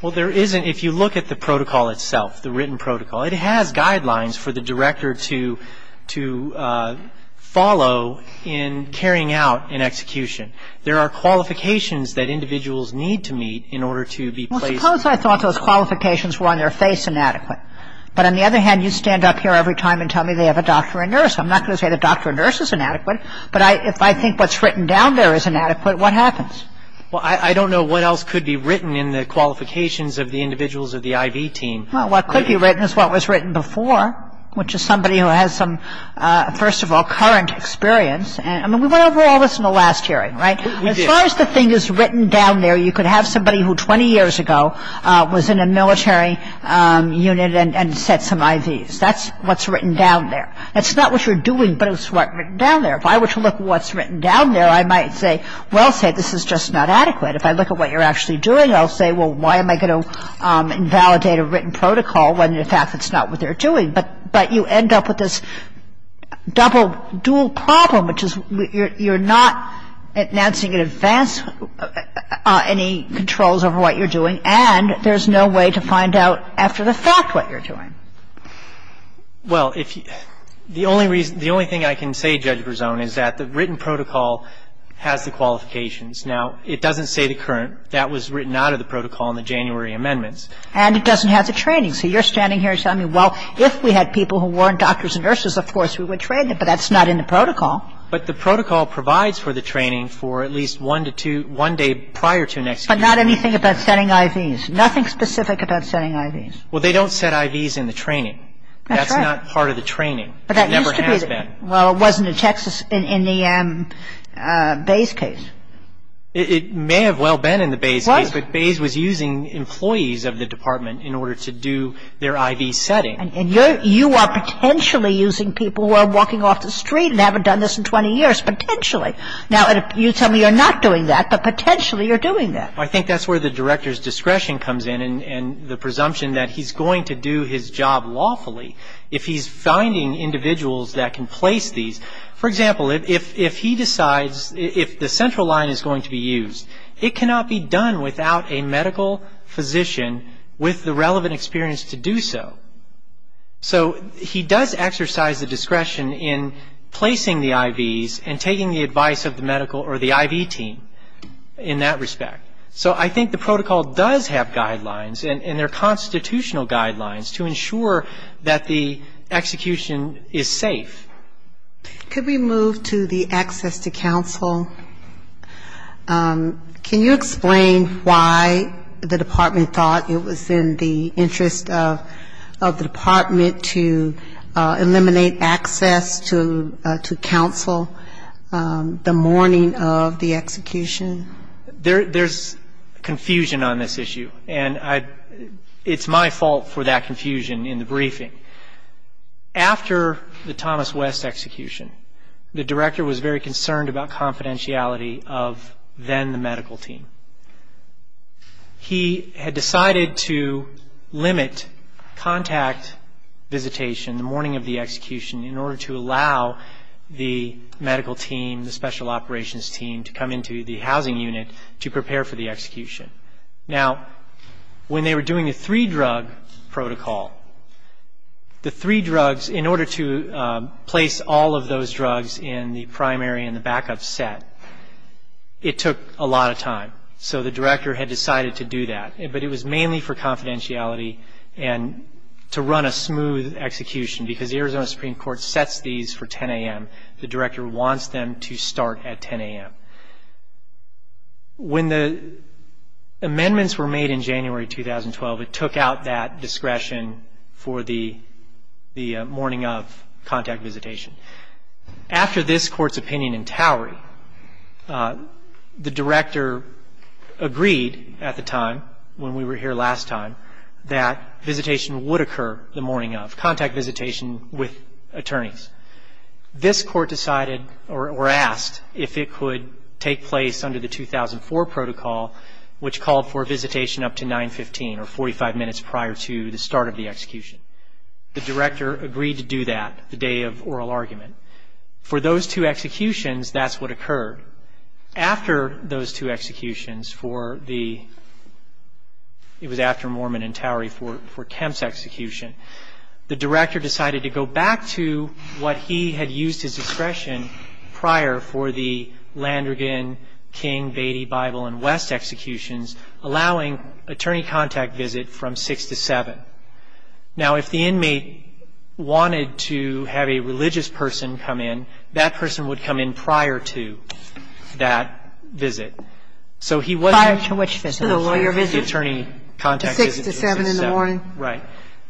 Well, there isn't. If you look at the protocol itself, the written protocol, it has guidelines for the director to follow in carrying out an execution. There are qualifications that individuals need to meet in order to be placed. Suppose I thought those qualifications were on their face inadequate. But on the other hand, you stand up here every time and tell me they have a doctor and nurse. I'm not going to say the doctor and nurse is inadequate, but if I think what's written down there is inadequate, what happens? Well, I don't know what else could be written in the qualifications of the individuals of the IV team. Well, what could be written is what was written before, which is somebody who has some, first of all, current experience. I mean, we went over all this in the last hearing, right? We did. As far as the thing is written down there, you could have somebody who 20 years ago was in a military unit and set some IVs. That's what's written down there. That's not what you're doing, but it's what's written down there. If I were to look at what's written down there, I might say, well, say, this is just not adequate. If I look at what you're actually doing, I'll say, well, why am I going to invalidate a written protocol when, in fact, it's not what they're doing? But you end up with this double, dual problem, which is you're not announcing in advance any controls over what you're doing, and there's no way to find out after the fact what you're doing. Well, if you – the only reason – the only thing I can say, Judge Berzon, is that the written protocol has the qualifications. Now, it doesn't say the current. That was written out of the protocol in the January amendments. And it doesn't have the training. So you're standing here saying, well, if we had people who weren't doctors and nurses, of course, we would train them. But that's not in the protocol. But the protocol provides for the training for at least one to two – one day prior to next week. But not anything about setting IVs. Nothing specific about setting IVs. Well, they don't set IVs in the training. That's right. That's not part of the training. But that used to be the – It never has been. Well, it wasn't in Texas – in the Bays case. It may have well been in the Bays case. It was. But the Bays was using employees of the department in order to do their IV setting. And you are potentially using people who are walking off the street and haven't done this in 20 years, potentially. Now, you tell me you're not doing that, but potentially you're doing that. I think that's where the director's discretion comes in and the presumption that he's going to do his job lawfully. If he's finding individuals that can place these – for example, if he decides – if the central line is going to be used, it cannot be done without a medical physician with the relevant experience to do so. So he does exercise the discretion in placing the IVs and taking the advice of the medical or the IV team in that respect. So I think the protocol does have guidelines and they're constitutional guidelines to ensure that the execution is safe. Could we move to the access to counsel? Can you explain why the department thought it was in the interest of the department to eliminate access to counsel the morning of the execution? There's confusion on this issue. And it's my fault for that confusion in the briefing. After the Thomas West execution, the director was very concerned about confidentiality of then the medical team. He had decided to limit contact visitation the morning of the execution in order to allow the medical team, the special operations team, to come into the housing unit to prepare for the execution. Now, when they were doing the three drug protocol, the three drugs, in order to place all of those drugs in the primary and the backup set, it took a lot of time. So the director had decided to do that. But it was mainly for confidentiality and to run a smooth execution, because the Arizona Supreme Court sets these for 10 a.m. The director wants them to start at 10 a.m. When the amendments were made in January 2012, it took out that discretion for the morning of contact visitation. After this court's opinion in Towery, the director agreed at the time, when we were here last time, that visitation would occur the morning of, contact visitation with attorneys. This court decided, or asked, if it could take place under the 2004 protocol, which called for a visitation up to 915, or 45 minutes prior to the start of the execution. The director agreed to do that the day of oral argument. For those two executions, that's what occurred. After those two executions, it was after Mormon and Towery for Kemp's execution, the director decided to go back to what he had used as discretion prior for the Landrigan, King, Beatty, Bible, and West executions, allowing attorney contact visit from 6 to 7. Now, if the inmate wanted to have a religious person come in, that person would come in prior to that visit. So he wasn't prior to the attorney contact visit. He was at 6 to 7 in the morning. Right.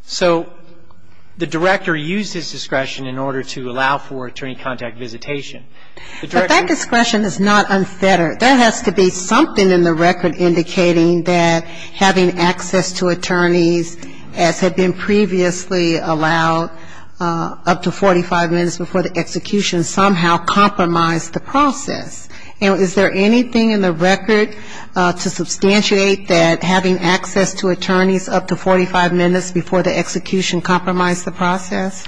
So the director used his discretion in order to allow for attorney contact visitation. But that discretion is not unfettered. There has to be something in the record indicating that having access to attorneys, as had been previously allowed up to 45 minutes before the execution, somehow compromised the process. And is there anything in the record to substantiate that having access to attorneys up to 45 minutes before the execution compromised the process?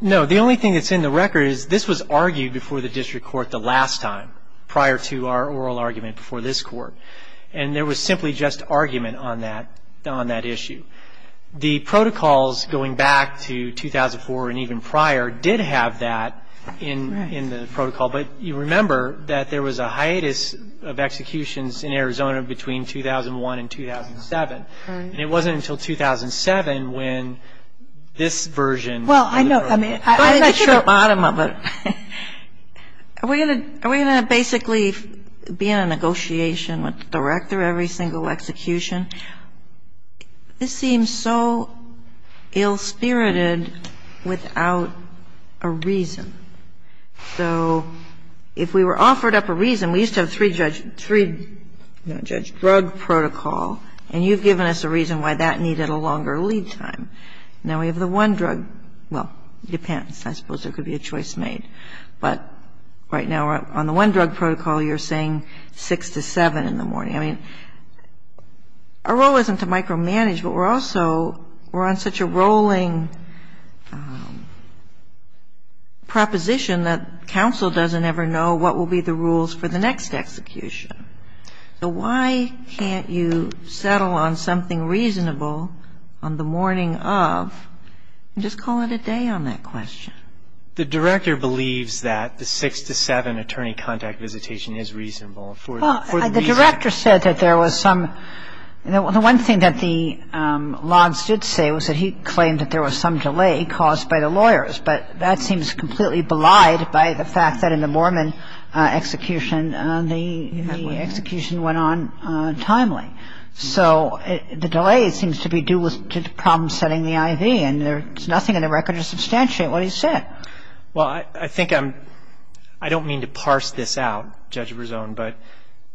No. The only thing that's in the record is this was argued before the district court the last time, prior to our oral argument before this court. And there was simply just argument on that issue. The protocols going back to 2004 and even prior did have that in the protocol. But you remember that there was a hiatus of executions in Arizona between 2001 and 2007. Right. And it wasn't until 2007 when this version was approved. Well, I know. I'm not sure the bottom of it. Are we going to basically be in a negotiation with the director every single execution? This seems so ill-spirited without a reason. So if we were offered up a reason, we used to have three-judge drug protocol, and you've given us a reason why that needed a longer lead time. Now we have the one-drug. Well, it depends. I suppose there could be a choice made. But right now we're on the one-drug protocol. You're saying 6 to 7 in the morning. I mean, our role isn't to micromanage, but we're also we're on such a rolling proposition that counsel doesn't ever know what will be the rules for the next execution. So why can't you settle on something reasonable on the morning of and just call it a day on that question? The director believes that the 6 to 7 attorney contact visitation is reasonable for the reason. The director said that there was some the one thing that the Lons did say was that he claimed that there was some delay caused by the lawyers, but that seems completely belied by the fact that in the Mormon execution, the execution went on timely. So the delay seems to be due to problem-setting the IV, and there's nothing in the record to substantiate what he said. Well, I think I'm I don't mean to parse this out, Judge Brezon, but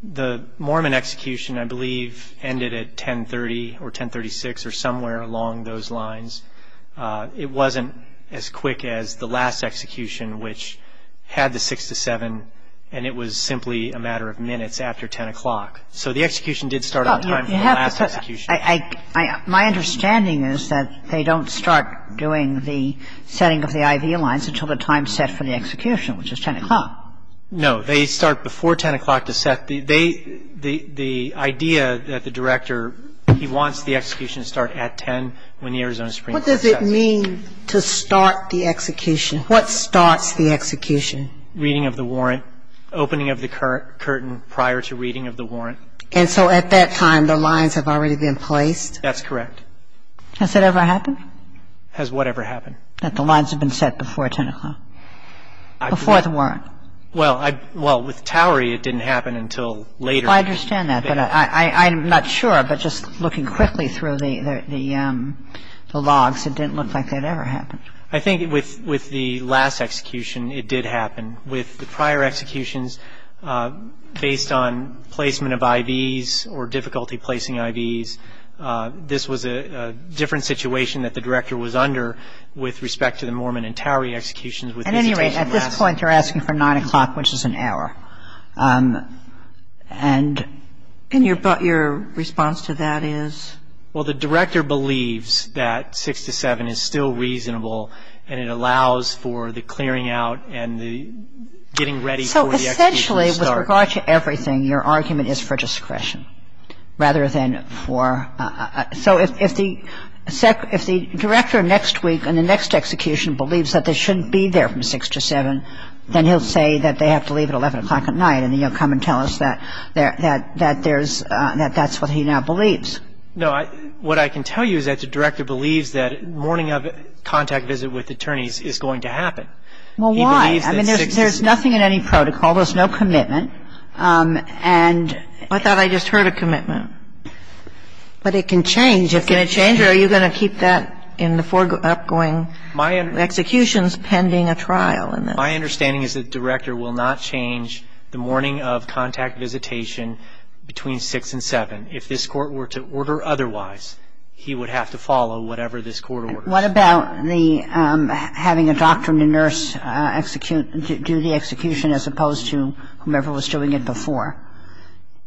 the Mormon execution I believe ended at 1030 or 1036 or somewhere along those lines. It wasn't as quick as the last execution, which had the 6 to 7, and it was simply a matter of minutes after 10 o'clock. So the execution did start on time for the last execution. My understanding is that they don't start doing the setting of the IV lines until the time set for the execution, which is 10 o'clock. No. They start before 10 o'clock to set. The idea that the director, he wants the execution to start at 10 when the Arizona Supreme Court sets. What does it mean to start the execution? What starts the execution? Reading of the warrant, opening of the curtain prior to reading of the warrant. And so at that time, the lines have already been placed? That's correct. Has that ever happened? Has whatever happened? That the lines have been set before 10 o'clock, before the warrant. Well, with Towery, it didn't happen until later. I understand that, but I'm not sure, but just looking quickly through the logs, it didn't look like that ever happened. I think with the last execution, it did happen. With the prior executions, based on placement of IVs or difficulty placing IVs, this was a different situation that the director was under with respect to the Mormon and Towery executions. At any rate, at this point, you're asking for 9 o'clock, which is an hour. And your response to that is? Well, the director believes that 6 to 7 is still reasonable, and it allows for the clearing out and the getting ready for the execution to start. So essentially, with regard to everything, your argument is for discretion, rather than for – so if the director next week and the next execution believes that they shouldn't be there from 6 to 7, then he'll say that they have to leave at 11 o'clock at night, and then he'll come and tell us that there's – that that's what he now believes. No. What I can tell you is that the director believes that mourning of contact visit with attorneys is going to happen. Well, why? I mean, there's nothing in any protocol. There's no commitment. And – I thought I just heard a commitment. But it can change. Can it change, or are you going to keep that in the upcoming executions pending a trial? My understanding is that the director will not change the mourning of contact visitation between 6 and 7. If this court were to order otherwise, he would have to follow whatever this court orders. What about the – having a doctor and a nurse execute – do the execution as opposed to whomever was doing it before?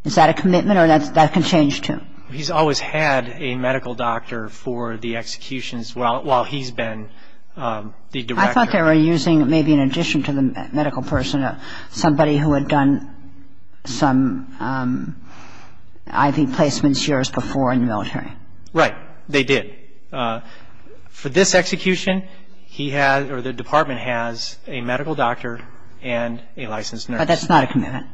Is that a commitment, or that can change, too? He's always had a medical doctor for the executions while he's been the director. I thought they were using maybe in addition to the medical person, somebody who had done some IV placements years before in the military. Right. They did. For this execution, he has – or the department has a medical doctor and a licensed nurse. But that's not a commitment.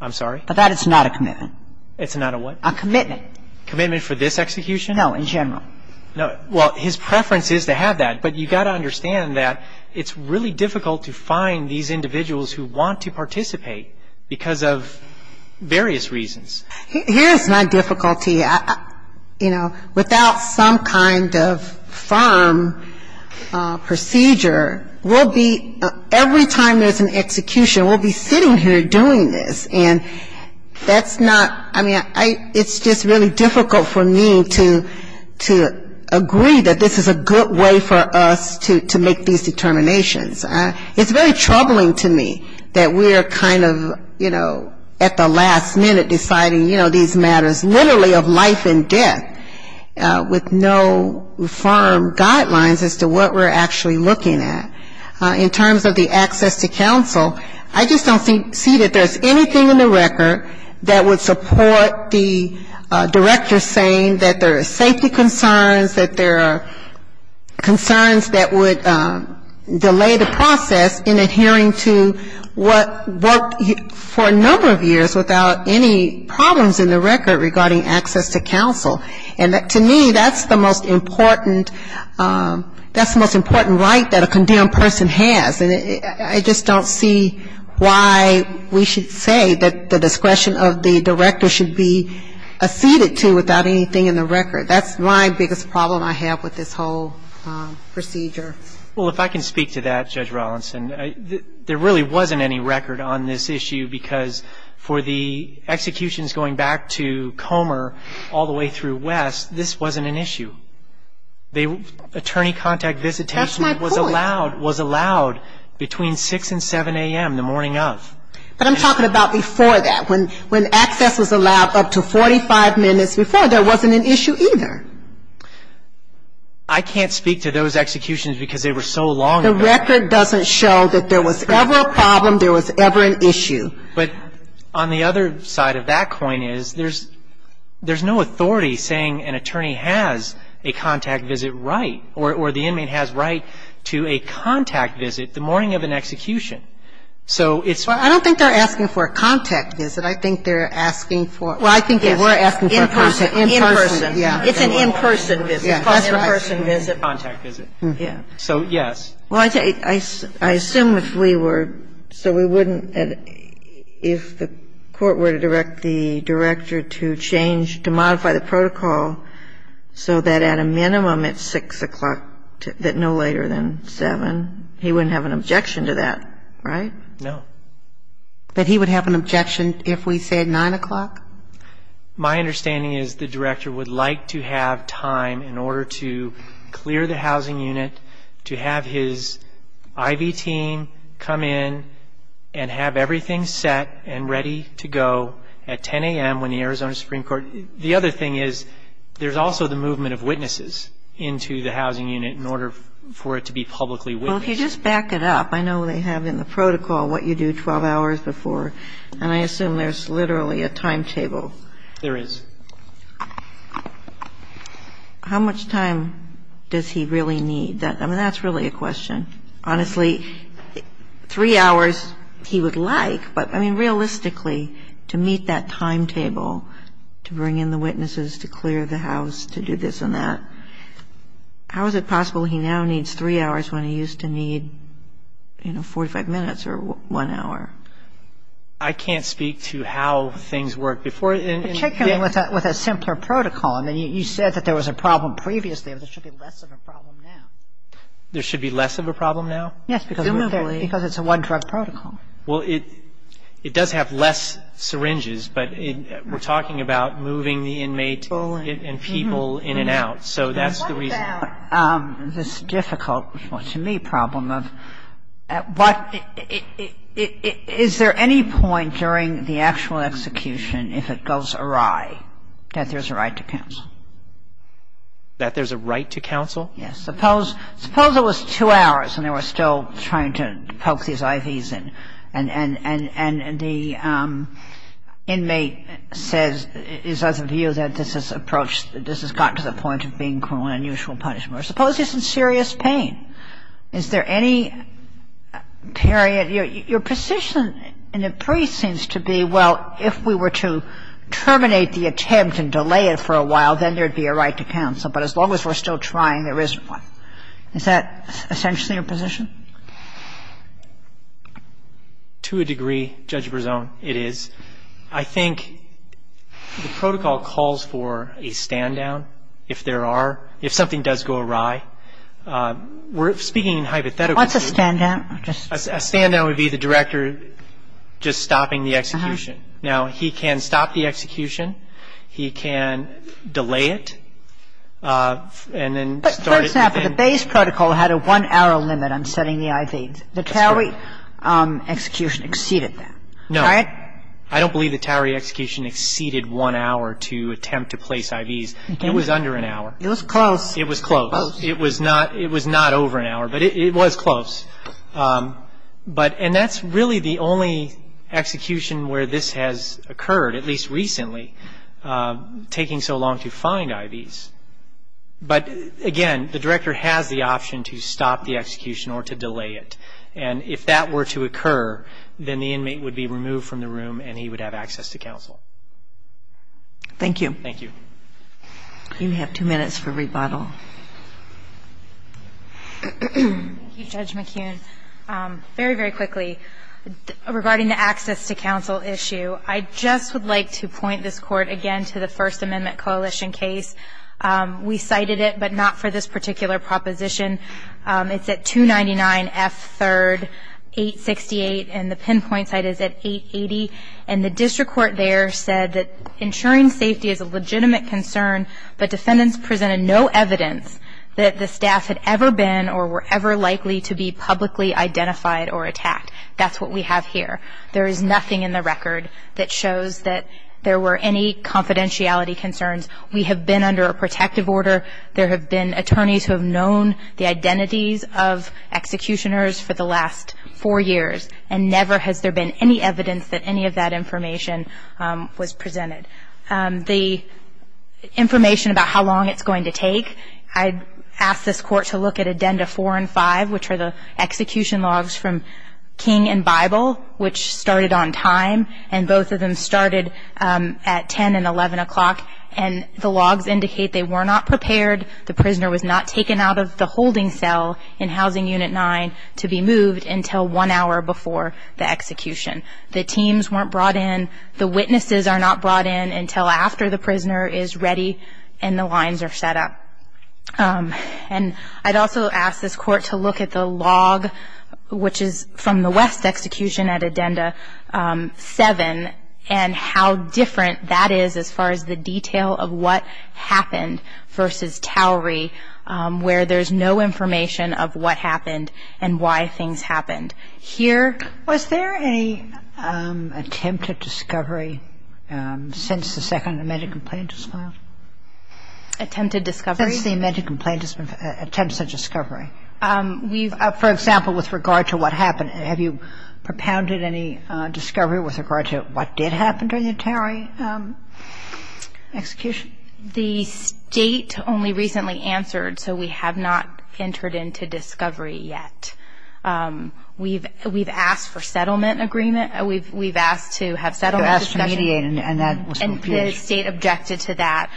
I'm sorry? But that is not a commitment. It's not a what? A commitment. A commitment for this execution? No, in general. No. Well, his preference is to have that, but you've got to understand that it's really difficult to find these individuals who want to participate because of various reasons. Here's my difficulty. You know, without some kind of firm procedure, we'll be – every time there's an execution, we'll be sitting here doing this. And that's not – I mean, it's just really difficult for me to agree that this is a good way for us to make these determinations. It's very troubling to me that we're kind of, you know, at the last minute deciding, you know, these matters, literally of life and death, with no firm guidelines as to what we're actually looking at. In terms of the access to counsel, I just don't see that there's anything in the record that would support the director saying that there are safety concerns, that there are concerns that would delay the process in adhering to what worked for a number of years without any problems in the record regarding access to counsel. And to me, that's the most important – that's the most important right that a condemned person has. And I just don't see why we should say that the discretion of the director should be acceded to without anything in the record. That's my biggest problem I have with this whole procedure. Well, if I can speak to that, Judge Rawlinson. There really wasn't any record on this issue because for the executions going back to Comer all the way through West, this wasn't an issue. Attorney contact visitation was allowed between 6 and 7 a.m. the morning of. But I'm talking about before that. When access was allowed up to 45 minutes before, there wasn't an issue either. I can't speak to those executions because they were so long ago. The record doesn't show that there was ever a problem, there was ever an issue. But on the other side of that coin is there's no authority saying an attorney has a contact visit right or the inmate has right to a contact visit the morning of an execution. So it's – Well, I don't think they're asking for a contact visit. I think they're asking for – well, I think they were asking for a contact visit. In person. In person, yeah. It's an in-person visit. That's right. Contact visit. So, yes. Well, I assume if we were – so we wouldn't – if the court were to direct the director to change, to modify the protocol so that at a minimum at 6 o'clock, that no later than 7, he wouldn't have an objection to that, right? No. That he would have an objection if we said 9 o'clock? My understanding is the director would like to have time in order to clear the housing unit, to have his IV team come in and have everything set and ready to go at 10 a.m. when the Arizona Supreme Court – the other thing is there's also the movement of witnesses into the housing unit in order for it to be publicly witnessed. Well, if you just back it up, I know they have in the protocol what you do 12 hours before, and I assume there's literally a timetable. There is. How much time does he really need? I mean, that's really a question. Honestly, three hours he would like, but, I mean, realistically, to meet that timetable, to bring in the witnesses, to clear the house, to do this and that, how is it possible he now needs three hours when he used to need, you know, 45 minutes or one hour? I can't speak to how things work. Particularly with a simpler protocol. I mean, you said that there was a problem previously, but there should be less of a problem now. There should be less of a problem now? Yes, because it's a one-drug protocol. Well, it does have less syringes, but we're talking about moving the inmate and people in and out. So that's the reason. Now, this difficult, to me, problem of what – is there any point during the actual execution, if it goes awry, that there's a right to counsel? That there's a right to counsel? Yes. Suppose it was two hours and they were still trying to poke these IVs in, and the inmate says, is of the view that this has approached – this has gotten to the point of being an unusual punishment. Suppose he's in serious pain. Is there any period – your position in the brief seems to be, well, if we were to terminate the attempt and delay it for a while, then there would be a right to counsel. But as long as we're still trying, there isn't one. Is that essentially your position? To a degree, Judge Brezon, it is. I think the protocol calls for a stand-down if there are – if something does go awry. We're speaking hypothetically. What's a stand-down? A stand-down would be the director just stopping the execution. Now, he can stop the execution. He can delay it and then start it again. But, for example, the base protocol had a one-hour limit on setting the IVs. The tally execution exceeded that. No. I don't believe the tally execution exceeded one hour to attempt to place IVs. It was under an hour. It was close. It was close. It was not over an hour, but it was close. And that's really the only execution where this has occurred, at least recently, taking so long to find IVs. But, again, the director has the option to stop the execution or to delay it. And if that were to occur, then the inmate would be removed from the room and he would have access to counsel. Thank you. Thank you. You have two minutes for rebuttal. Thank you, Judge McKeon. Very, very quickly, regarding the access to counsel issue, I just would like to point this Court again to the First Amendment Coalition case. We cited it, but not for this particular proposition. It's at 299F3rd868, and the pinpoint site is at 880. And the district court there said that ensuring safety is a legitimate concern, but defendants presented no evidence that the staff had ever been or were ever likely to be publicly identified or attacked. That's what we have here. There is nothing in the record that shows that there were any confidentiality concerns. We have been under a protective order. There have been attorneys who have known the identities of executioners for the last four years, and never has there been any evidence that any of that information was presented. The information about how long it's going to take, I'd ask this Court to look at Addenda 4 and 5, which are the execution logs from King and Bible, which started on time, and both of them started at 10 and 11 o'clock. And the logs indicate they were not prepared. The prisoner was not taken out of the holding cell in Housing Unit 9 to be moved until one hour before the execution. The teams weren't brought in. The witnesses are not brought in until after the prisoner is ready and the lines are set up. And I'd also ask this Court to look at the log, which is from the West execution at Addenda 7, and how different that is as far as the detail of what happened versus Towery, where there's no information of what happened and why things happened. Here ‑‑ Was there any attempted discovery since the second amended complaint was filed? Attempted discovery? Since the amended complaint, attempts at discovery. We've ‑‑ For example, with regard to what happened. Have you propounded any discovery with regard to what did happen during the Towery execution? The State only recently answered, so we have not entered into discovery yet. We've asked for settlement agreement. We've asked to have settlement discussions. You asked to mediate, and that was refused. And the State objected to that.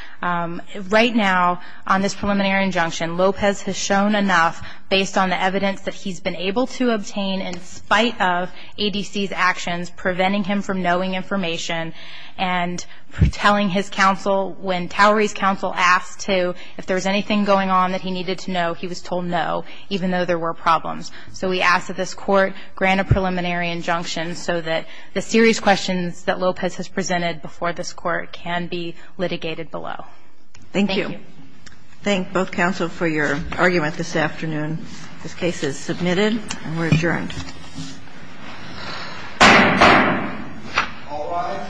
Right now, on this preliminary injunction, Lopez has shown enough, based on the evidence that he's been able to obtain, in spite of ADC's actions preventing him from knowing information and telling his counsel when Towery's counsel asked to, if there was anything going on that he needed to know, he was told no, even though there were problems. So we ask that this Court grant a preliminary injunction so that the serious questions that Lopez has presented before this Court can be litigated below. Thank you. Thank you. Thank you both, counsel, for your argument this afternoon. This case is submitted and we're adjourned. All rise.